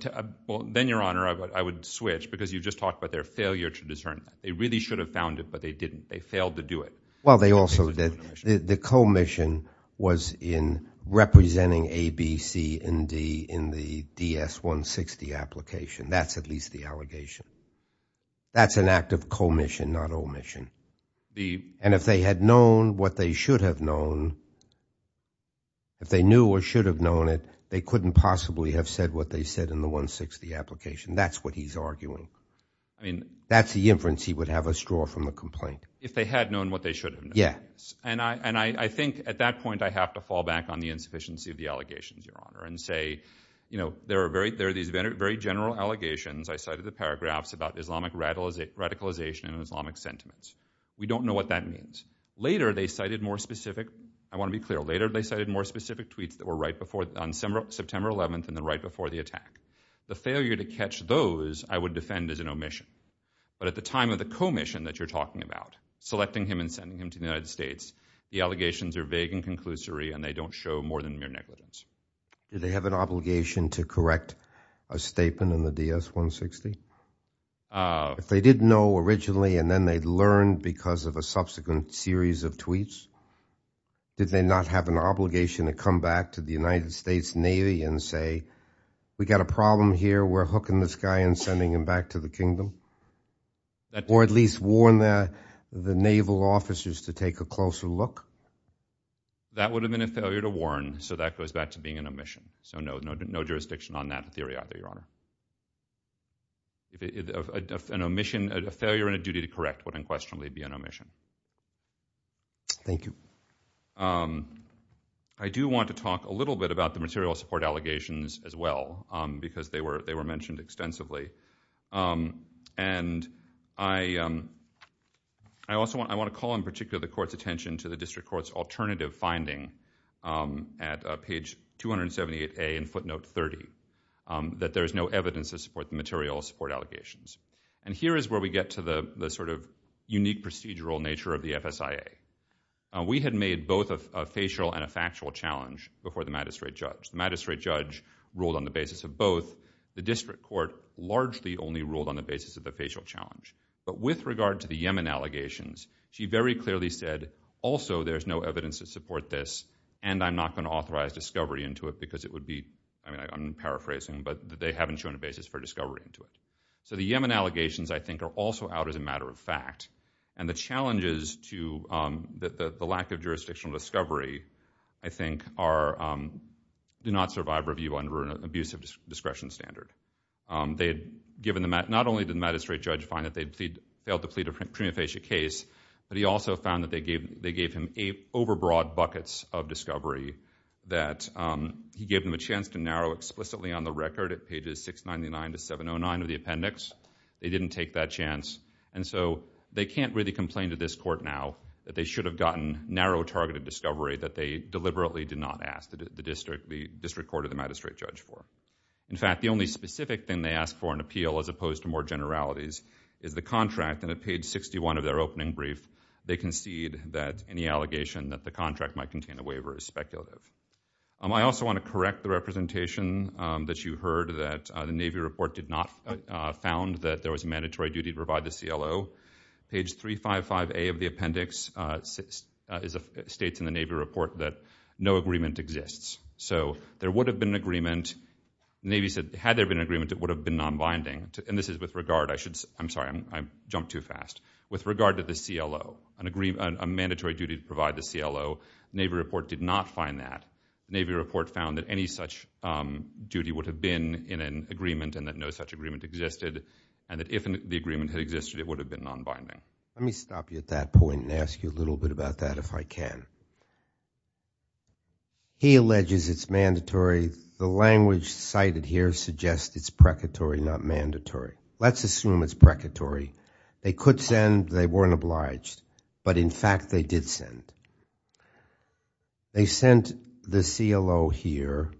well, then your honor, I would switch, because you just talked about their failure to discern. They really should have found it, but they didn't. They failed to do it. Well, they also did... the co-mission was in representing A, B, C, and D in the DS-160 application. That's at least the allegation. That's an act of co-mission, not omission. And if they had known what they should have known, if they knew or should have known it, they couldn't possibly have said what they said in the 160 application. That's what he's arguing. I mean, that's the inference he would have us draw from the complaint. If they had known what they should have known. Yeah. And I think at that point I have to fall back on the insufficiency of the allegations, your honor, and say, you know, there are these very general allegations. I cited the paragraphs about Islamic radicalization and Islamic sentiments. We don't know what that means. Later, they cited more specific tweets that were right before, on September 11th, and then right before the attack. The failure to catch those I would defend as an omission. But at the time of the co-mission that you're talking about, selecting him and sending him to the United States, the allegations are vague and conclusory, and they don't show more than mere negligence. Do they have an obligation to correct a statement in the DS-160? If they didn't know originally, and then they'd learn because of a subsequent series of tweets, did they not have an obligation to come back to the United States Navy and say, we got a problem here, we're hooking this guy and sending him back to the kingdom? Or at least warn the the naval officers to take a closer look? That would have been a failure to warn, so that goes back to being an omission. So no, no jurisdiction on that theory either, your honor. An omission, a failure and a duty to correct would unquestionably be an omission. Thank you. I do want to talk a little bit about the material support allegations as well, because they were mentioned extensively. And I also want to call in particular the court's attention to the district court's alternative finding at page 278A in footnote 30, that there is no evidence to support the material support allegations. And here is where we get to the sort of unique procedural nature of the FSIA. We had made both a facial and a factual challenge before the magistrate judge. The magistrate judge ruled on the basis of both, the district court largely only ruled on the basis of the facial challenge. But with regard to the Yemen allegations, she very clearly said, also there's no evidence to support this, and I'm not going to authorize discovery into it because it would be, I'm paraphrasing, but they haven't shown a basis for discovery into it. So the Yemen allegations, I think, are also out as a matter of fact. And the challenges to the lack of jurisdictional discovery, I think, do not survive review under an abusive discretion standard. They had given the, not only did the magistrate judge find that they'd failed to plead a prima facie case, but he also found that they gave him over broad buckets of discovery that he gave them a chance to narrow explicitly on the record at pages 699 to 709 of the appendix, they didn't take that chance. And so they can't really complain to this court now that they should have gotten narrow targeted discovery that they deliberately did not ask, the district court or the magistrate judge for. In fact, the only specific thing they asked for in appeal as opposed to more generalities is the contract. And at page 61 of their opening brief, they concede that any allegation that the contract might contain a waiver is speculative. I also want to correct the representation that you heard that the Navy report did not found that there was a mandatory duty to provide the CLO. Page 355A of the appendix states in the Navy report that no agreement exists. So there would have been an agreement, the Navy said, had there been an agreement it would have been non-binding. And this is with regard, I should, I'm sorry, I jumped too fast. With regard to the CLO, a mandatory duty to provide the CLO, Navy report did not find that. Navy report found that any such duty would have been in an agreement and that no such agreement existed. And that if the agreement had existed, it would have been non-binding. Let me stop you at that point and ask you a little bit about that if I can. He alleges it's mandatory. The language cited here suggests it's precatory, not mandatory. Let's assume it's precatory. They could send, they weren't obliged. But in fact, they did send. They sent the CLO here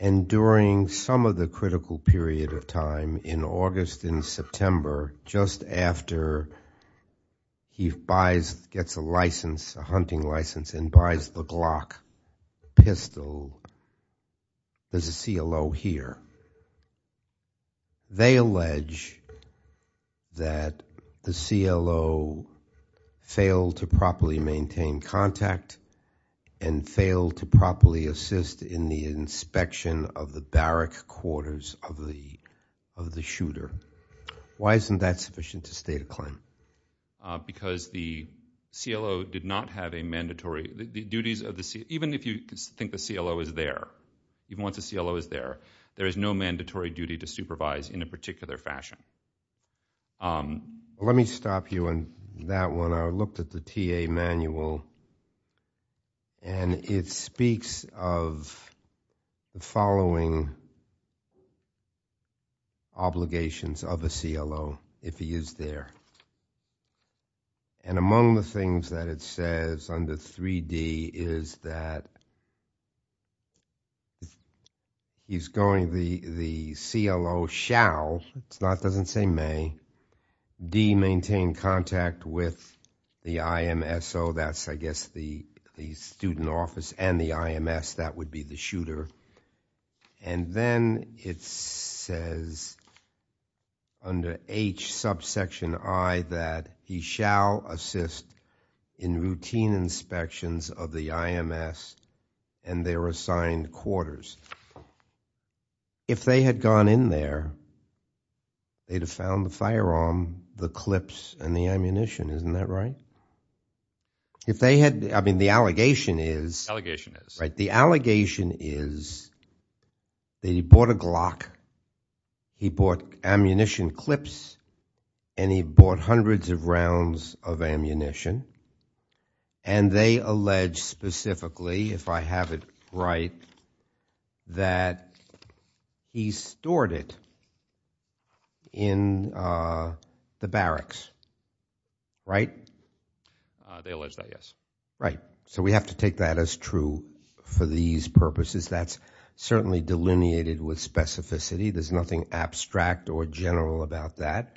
and during some of the critical period of time in August and September, just after he buys, gets a license, a hunting license and buys the Glock pistol, there's a CLO here. And they allege that the CLO failed to properly maintain contact and failed to properly assist in the inspection of the barrack quarters of the shooter. Why isn't that sufficient to state a claim? Because the CLO did not have a mandatory, the duties of the CLO, even if you think the CLO is there, even once the CLO is there, there is no mandatory duty to supervise in a particular fashion. Let me stop you on that one. I looked at the TA manual and it speaks of the following obligations of a CLO if he is there. And among the things that it says under 3D is that he's going, the CLO shall, it's not, doesn't say may, D, maintain contact with the IMSO. That's I guess the student office and the IMS, that would be the shooter. And then it says under H subsection I that he shall assist in routine inspections of the IMS and their assigned quarters. If they had gone in there, they'd have found the firearm, the clips and the ammunition. Isn't that right? If they had, I mean, the allegation is. Allegation is. Right, the allegation is that he bought a Glock, he bought ammunition clips, and he bought hundreds of rounds of ammunition, and they allege specifically, if I have it right, that he stored it in the barracks, right? They allege that, yes. Right, so we have to take that as true for these purposes. That's certainly delineated with specificity. There's nothing abstract or general about that.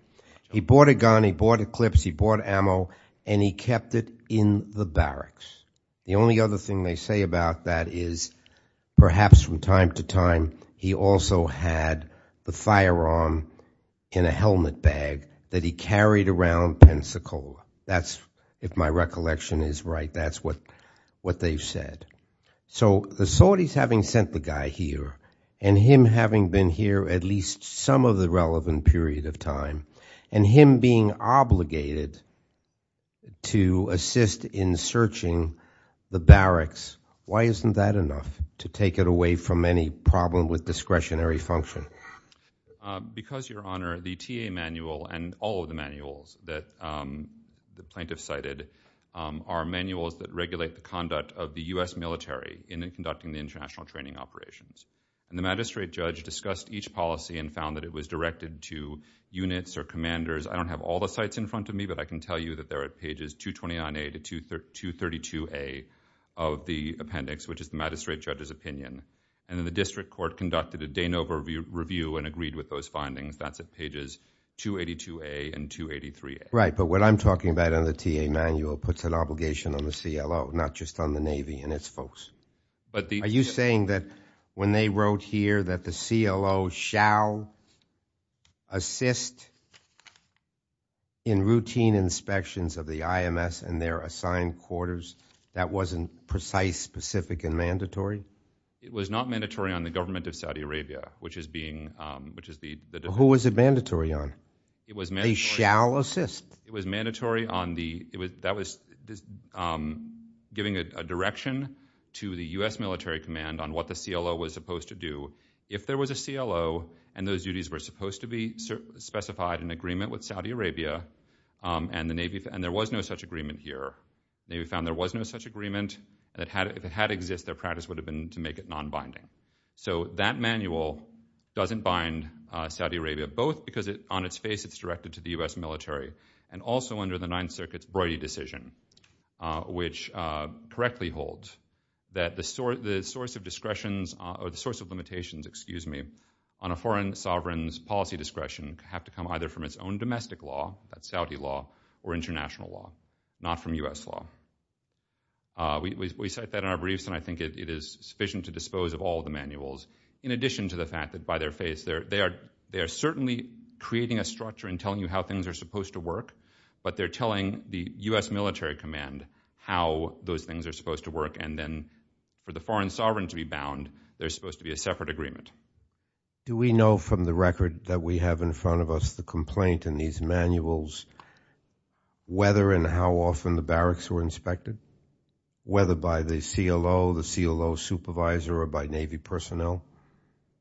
He bought a gun, he bought a clip, he bought ammo, and he kept it in the barracks. The only other thing they say about that is perhaps from time to time he also had the firearm in a helmet bag that he carried around Pensacola. That's, if my recollection is right, that's what they've said. So the Saudis having sent the guy here, and him having been here at least some of the relevant period of time, and him being obligated to assist in searching the barracks, why isn't that enough to take it away from any problem with discretionary function? Because, Your Honor, the TA manual and all of the manuals that the plaintiff cited are manuals that regulate the conduct of the U.S. military in conducting the international training operations. And the magistrate judge discussed each policy and found that it was directed to units or commanders. I don't have all the sites in front of me, but I can tell you that they're at pages 229A to 232A of the appendix, which is the magistrate judge's opinion. And then the district court conducted a Danova review and agreed with those findings. That's at pages 282A and 283A. Right. But what I'm talking about in the TA manual puts an obligation on the CLO, not just on the Navy and its folks. Are you saying that when they wrote here that the CLO shall assist in routine inspections of the IMS and their assigned quarters, that wasn't precise, specific, and mandatory? It was not mandatory on the government of Saudi Arabia, which is being, which is the. Who was it mandatory on? It was mandatory. They shall assist. It was mandatory on the, that was giving a direction to the U.S. military command on what the CLO was supposed to do. If there was a CLO and those duties were supposed to be specified in agreement with Saudi Arabia and the Navy, and there was no such agreement here. The Navy found there was no such agreement. If it had existed, their practice would have been to make it non-binding. So that manual doesn't bind Saudi Arabia, both because on its face it's directed to the U.S. military, and also under the Ninth Circuit's Broidy decision, which correctly holds that the source of discretions, or the source of limitations, excuse me, on a foreign sovereign's policy discretion have to come either from its own domestic law, that's Saudi law, or international law, not from U.S. law. We cite that in our briefs, and I think it is sufficient to dispose of all the manuals, in addition to the fact that by their face, they are certainly creating a structure and telling you how things are supposed to work, but they're telling the U.S. military command how those things are supposed to work, and then for the foreign sovereign to be bound, there's supposed to be a separate agreement. Do we know from the record that we have in front of us the complaint in these manuals, whether and how often the barracks were inspected? Whether by the CLO, the CLO supervisor, or by Navy personnel?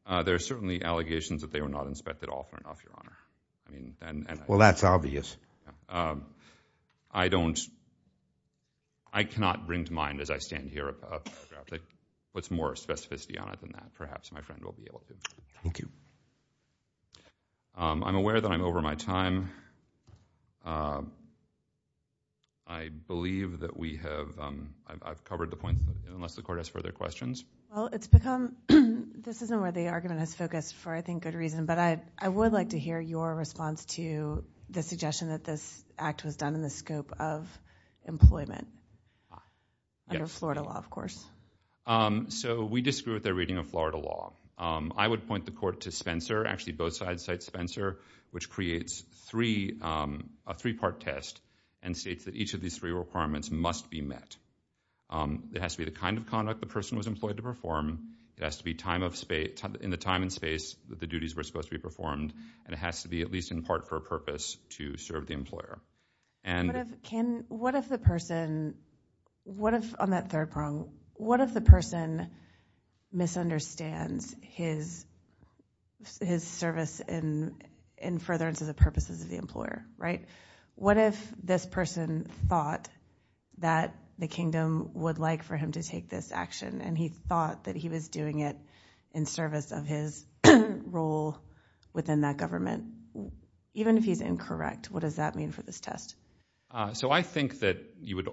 There are certainly allegations that they were not inspected often enough, Your Honor. Well, that's obvious. I don't, I cannot bring to mind as I stand here a paragraph, what's more specificity on it than that, perhaps my friend will be able to. Thank you. I'm aware that I'm over my time. I believe that we have, I've covered the point, unless the court has further questions. Well, it's become, this isn't where the argument has focused for, I think, good reason, but I would like to hear your response to the suggestion that this act was done in the scope of employment, under Florida law, of course. So, we disagree with their reading of Florida law. I would point the court to Spencer, actually both sides cite Spencer, which creates a three-part test and states that each of these three requirements must be met. It has to be the kind of conduct the person was employed to perform, it has to be in the time and space that the duties were supposed to be performed, and it has to be at least in part for a purpose to serve the employer. What if the person, on that third prong, what if the person misunderstands his service in furtherance of the purposes of the employer, right? What if this person thought that the kingdom would like for him to take this action and he thought that he was doing it in service of his role within that government? Even if he's incorrect, what does that mean for this test? So, I think that you would,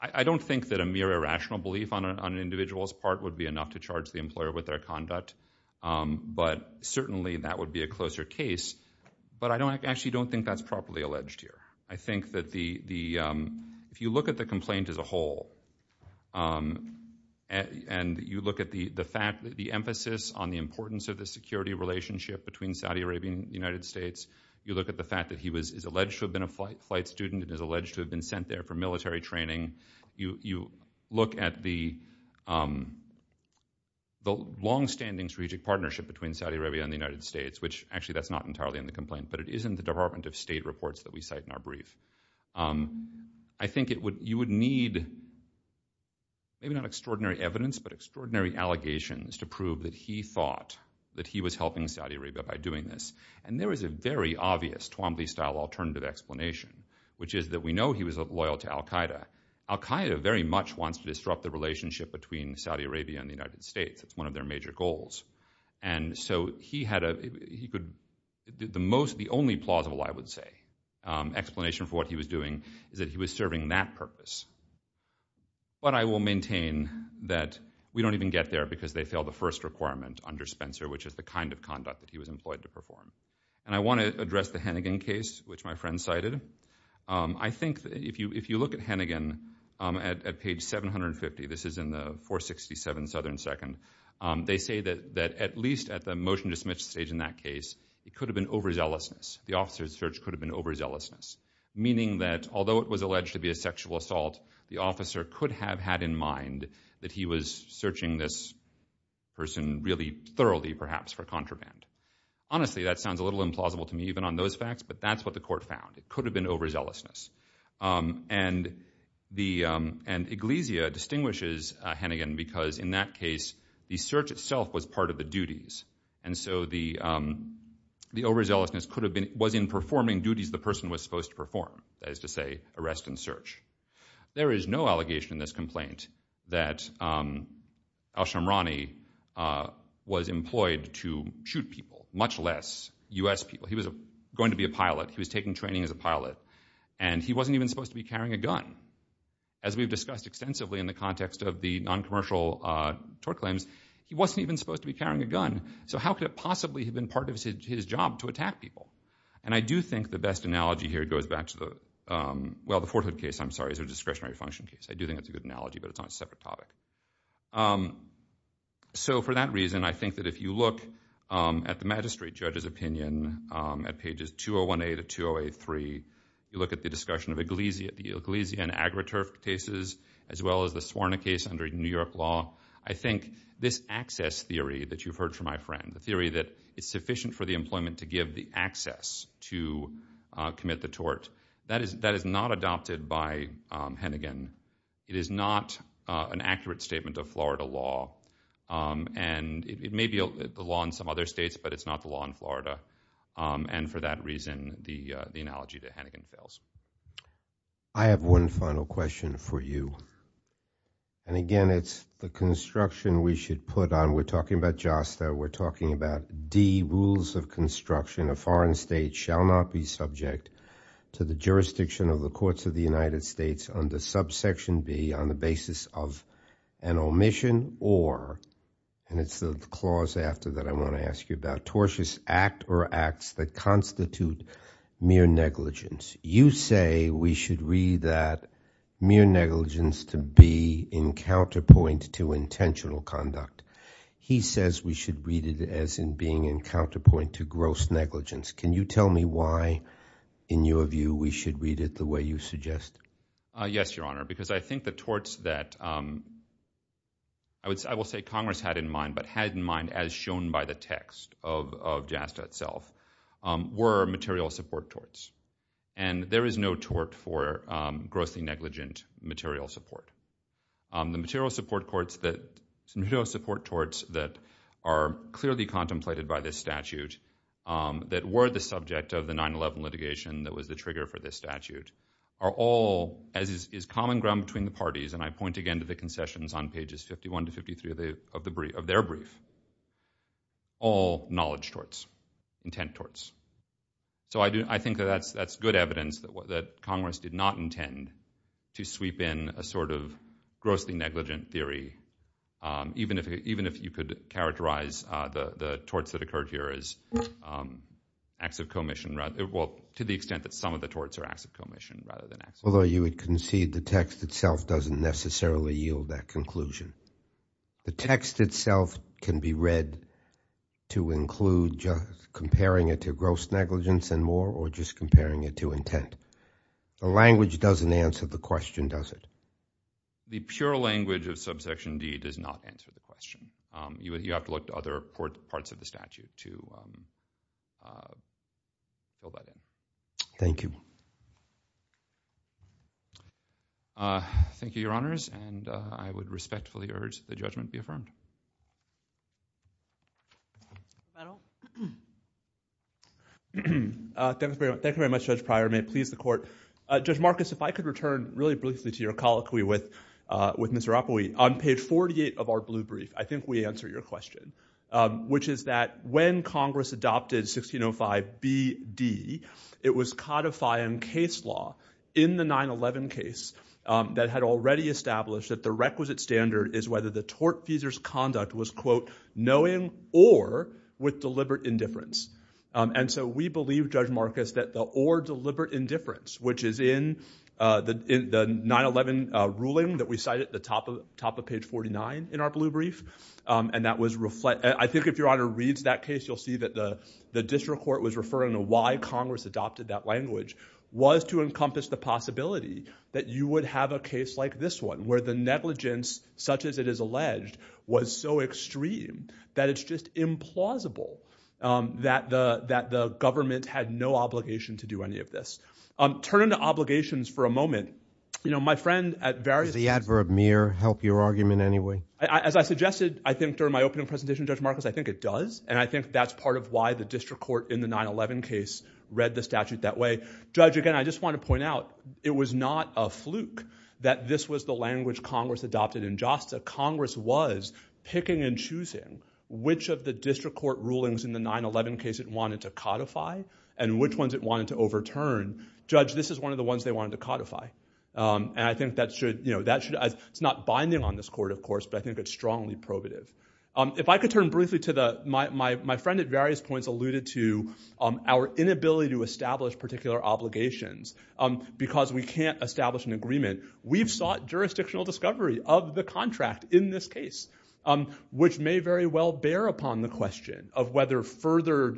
I don't think that a mere irrational belief on an individual's part would be enough to charge the employer with their conduct, but certainly that would be a closer case, but I actually don't think that's properly alleged here. I think that the, if you look at the complaint as a whole, and you look at the fact that the emphasis on the importance of the security relationship between Saudi Arabia and the United States, you look at the fact that he is alleged to have been a flight student and is alleged to have been sent there for military training, you look at the longstanding strategic partnership between Saudi Arabia and the United States, which actually that's not entirely in the complaint, but it is in the Department of State reports that we cite in our brief. I think you would need, maybe not extraordinary evidence, but extraordinary allegations to prove that he thought that he was helping Saudi Arabia by doing this, and there is a very obvious Twombly-style alternative explanation, which is that we know he was loyal to Al-Qaeda. Al-Qaeda very much wants to disrupt the relationship between Saudi Arabia and the United States. It's one of their major goals, and so he had a, he could, the most, the only plausible, I would say, explanation for what he was doing is that he was serving that purpose, but I will maintain that we don't even get there because they failed the first requirement under Spencer, which is the kind of conduct that he was employed to perform, and I want to address the Hannigan case, which my friend cited. I think if you look at Hannigan at page 750, this is in the 467 Southern Second, they say that at least at the motion-dismissed stage in that case, it could have been overzealousness, the officer's search could have been overzealousness, meaning that although it was alleged to be a sexual assault, the officer could have had in mind that he was searching this person really thoroughly, perhaps, for contraband. Honestly, that sounds a little implausible to me, even on those facts, but that's what the court found. It could have been overzealousness, and the, and Iglesia distinguishes Hannigan because in that case, the search itself was part of the duties, and so the overzealousness could have been, it was in performing duties the person was supposed to perform, that is to say, arrest and search. There is no allegation in this complaint that Alshamrani was employed to shoot people, much less US people. He was going to be a pilot, he was taking training as a pilot, and he wasn't even supposed to be carrying a gun. As we've discussed extensively in the context of the non-commercial tort claims, he wasn't even supposed to be carrying a gun, so how could it possibly have been part of his job to attack people? And I do think the best analogy here goes back to the, well, the Fort Hood case, I'm sorry, is a discretionary function case. I do think that's a good analogy, but it's on a separate topic. So for that reason, I think that if you look at the magistrate judge's opinion at pages 201A to 2083, you look at the discussion of Iglesia, the Iglesia and Agroturf cases, as well as the Suorna case under New York law, I think this access theory that you've heard from my friend, the theory that it's sufficient for the employment to give the access to commit the tort, that is not adopted by Hennigan. It is not an accurate statement of Florida law, and it may be the law in some other states, but it's not the law in Florida, and for that reason, the analogy to Hennigan fails. I have one final question for you, and again, it's the construction we should put on, we're talking about JASTA, we're talking about D, rules of construction, a foreign state shall not be subject to the jurisdiction of the courts of the United States under subsection B on the basis of an omission or, and it's the clause after that I want to ask you about, a tortious act or acts that constitute mere negligence. You say we should read that mere negligence to be in counterpoint to intentional conduct. He says we should read it as in being in counterpoint to gross negligence. Can you tell me why, in your view, we should read it the way you suggest? Yes, Your Honor, because I think the torts that I will say Congress had in mind, but had in mind as shown by the text of JASTA itself, were material support torts, and there is no tort for grossly negligent material support. The material support torts that are clearly contemplated by this statute, that were the subject of the 9-11 litigation that was the trigger for this statute, are all, as is common ground between the parties, and I point again to the concessions on pages 51 to 53 of their brief, all knowledge torts, intent torts. So I think that's good evidence that Congress did not intend to sweep in a sort of grossly negligent theory, even if you could characterize the torts that occurred here as acts of commission, to the extent that some of the torts are acts of commission rather than acts of commission. Although you would concede the text itself doesn't necessarily yield that conclusion. The text itself can be read to include just comparing it to gross negligence and more, or just comparing it to intent. The language doesn't answer the question, does it? The pure language of subsection D does not answer the question. You would have to look to other parts of the statute to go by that. Thank you. Thank you, Your Honors, and I would respectfully urge that the judgment be affirmed. Thank you very much, Judge Pryor. May it please the Court. Judge Marcus, if I could return really briefly to your colloquy with Mr. Oppowee. On page 48 of our blue brief, I think we answered your question, which is that when Congress adopted 1605 B.D., it was codifying case law in the 9-11 case that had already established that the requisite standard is whether the tortfeasor's conduct was, quote, knowing or with deliberate indifference. And so we believe, Judge Marcus, that the or deliberate indifference, which is in the 9-11 ruling that we cite at the top of page 49 in our blue brief, and that was reflect—I think if Your Honor reads that case, you'll see that the district court was referring to why Congress adopted that language, was to encompass the possibility that you would have a case like this one, where the negligence, such as it is alleged, was so extreme that it's just implausible that the government had no obligation to do any of this. Turning to obligations for a moment, you know, my friend at various— Does the adverb mere help your argument anyway? As I suggested, I think, during my opening presentation, Judge Marcus, I think it does, and I think that's part of why the district court in the 9-11 case read the statute that way. Judge, again, I just want to point out, it was not a fluke that this was the language Congress adopted in Josta. Congress was picking and choosing which of the district court rulings in the 9-11 case it wanted to codify and which ones it wanted to overturn. Judge, this is one of the ones they wanted to codify. And I think that should—it's not binding on this court, of course, but I think it's strongly probative. If I could turn briefly to the—my friend at various points alluded to our inability to establish particular obligations because we can't establish an agreement. We've sought jurisdictional discovery of the contract in this case, which may very well bear upon the question of whether further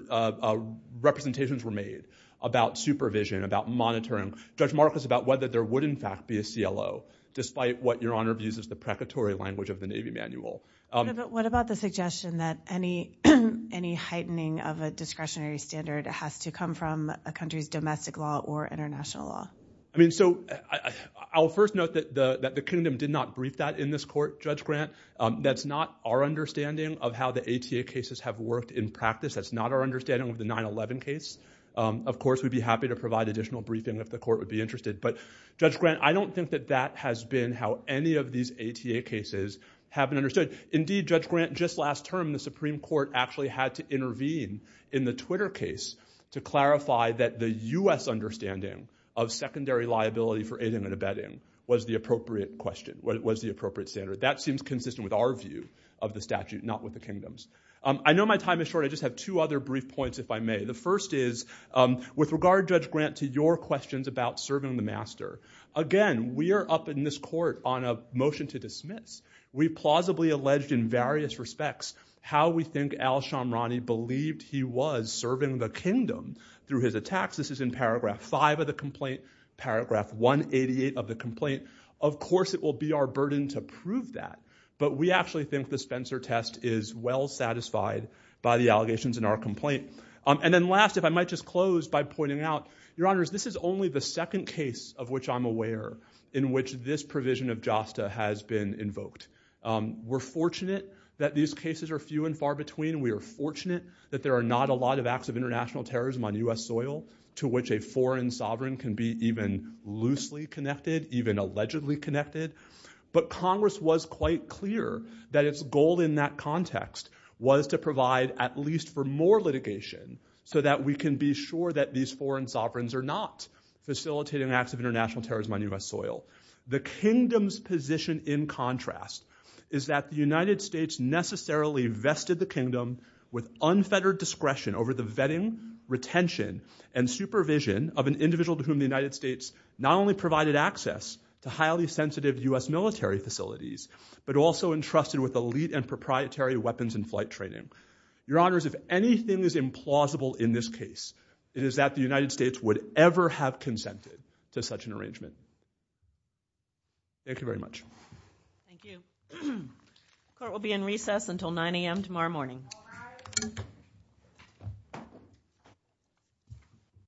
representations were made about supervision, about monitoring. Judge Marcus, about whether there would, in fact, be a CLO, despite what Your Honor views as the precatory language of the Navy Manual. What about the suggestion that any heightening of a discretionary standard has to come from a country's domestic law or international law? I mean, so I'll first note that the Kingdom did not brief that in this court, Judge Grant. That's not our understanding of how the ATA cases have worked in practice. That's not our understanding of the 9-11 case. Of course, we'd be happy to provide additional briefing if the court would be interested. But, Judge Grant, I don't think that that has been how any of these ATA cases have been understood. Indeed, Judge Grant, just last term, the Supreme Court actually had to intervene in the Twitter case to clarify that the U.S. understanding of secondary liability for aiding and abetting was the appropriate question, was the appropriate standard. That seems consistent with our view of the statute, not with the Kingdom's. I know my time is short. I just have two other brief points, if I may. The first is, with regard, Judge Grant, to your questions about serving the master. Again, we are up in this court on a motion to dismiss. We plausibly alleged in various respects how we think Al-Shamrani believed he was serving the Kingdom through his attacks. This is in paragraph 5 of the complaint, paragraph 188 of the complaint. Of course, it will be our burden to prove that. But we actually think the Spencer test is well satisfied by the allegations in our complaint. And then last, if I might just close by pointing out, your honors, this is only the second case of which I'm aware in which this provision of JASTA has been invoked. We're fortunate that these cases are few and far between. We are fortunate that there are not a lot of acts of international terrorism on U.S. soil to which a foreign sovereign can be even loosely connected, even allegedly connected. But Congress was quite clear that its goal in that context was to provide at least for more litigation so that we can be sure that these foreign sovereigns are not facilitating acts of international terrorism on U.S. soil. The Kingdom's position in contrast is that the United States necessarily vested the Kingdom with unfettered discretion over the vetting, retention, and supervision of an individual to whom the United States not only provided access to highly sensitive U.S. military facilities, but also entrusted with elite and proprietary weapons and flight training. Your honors, if anything is implausible in this case, it is that the United States would ever have consented to such an arrangement. Thank you very much. Thank you. Court will be in recess until 9 a.m. tomorrow morning.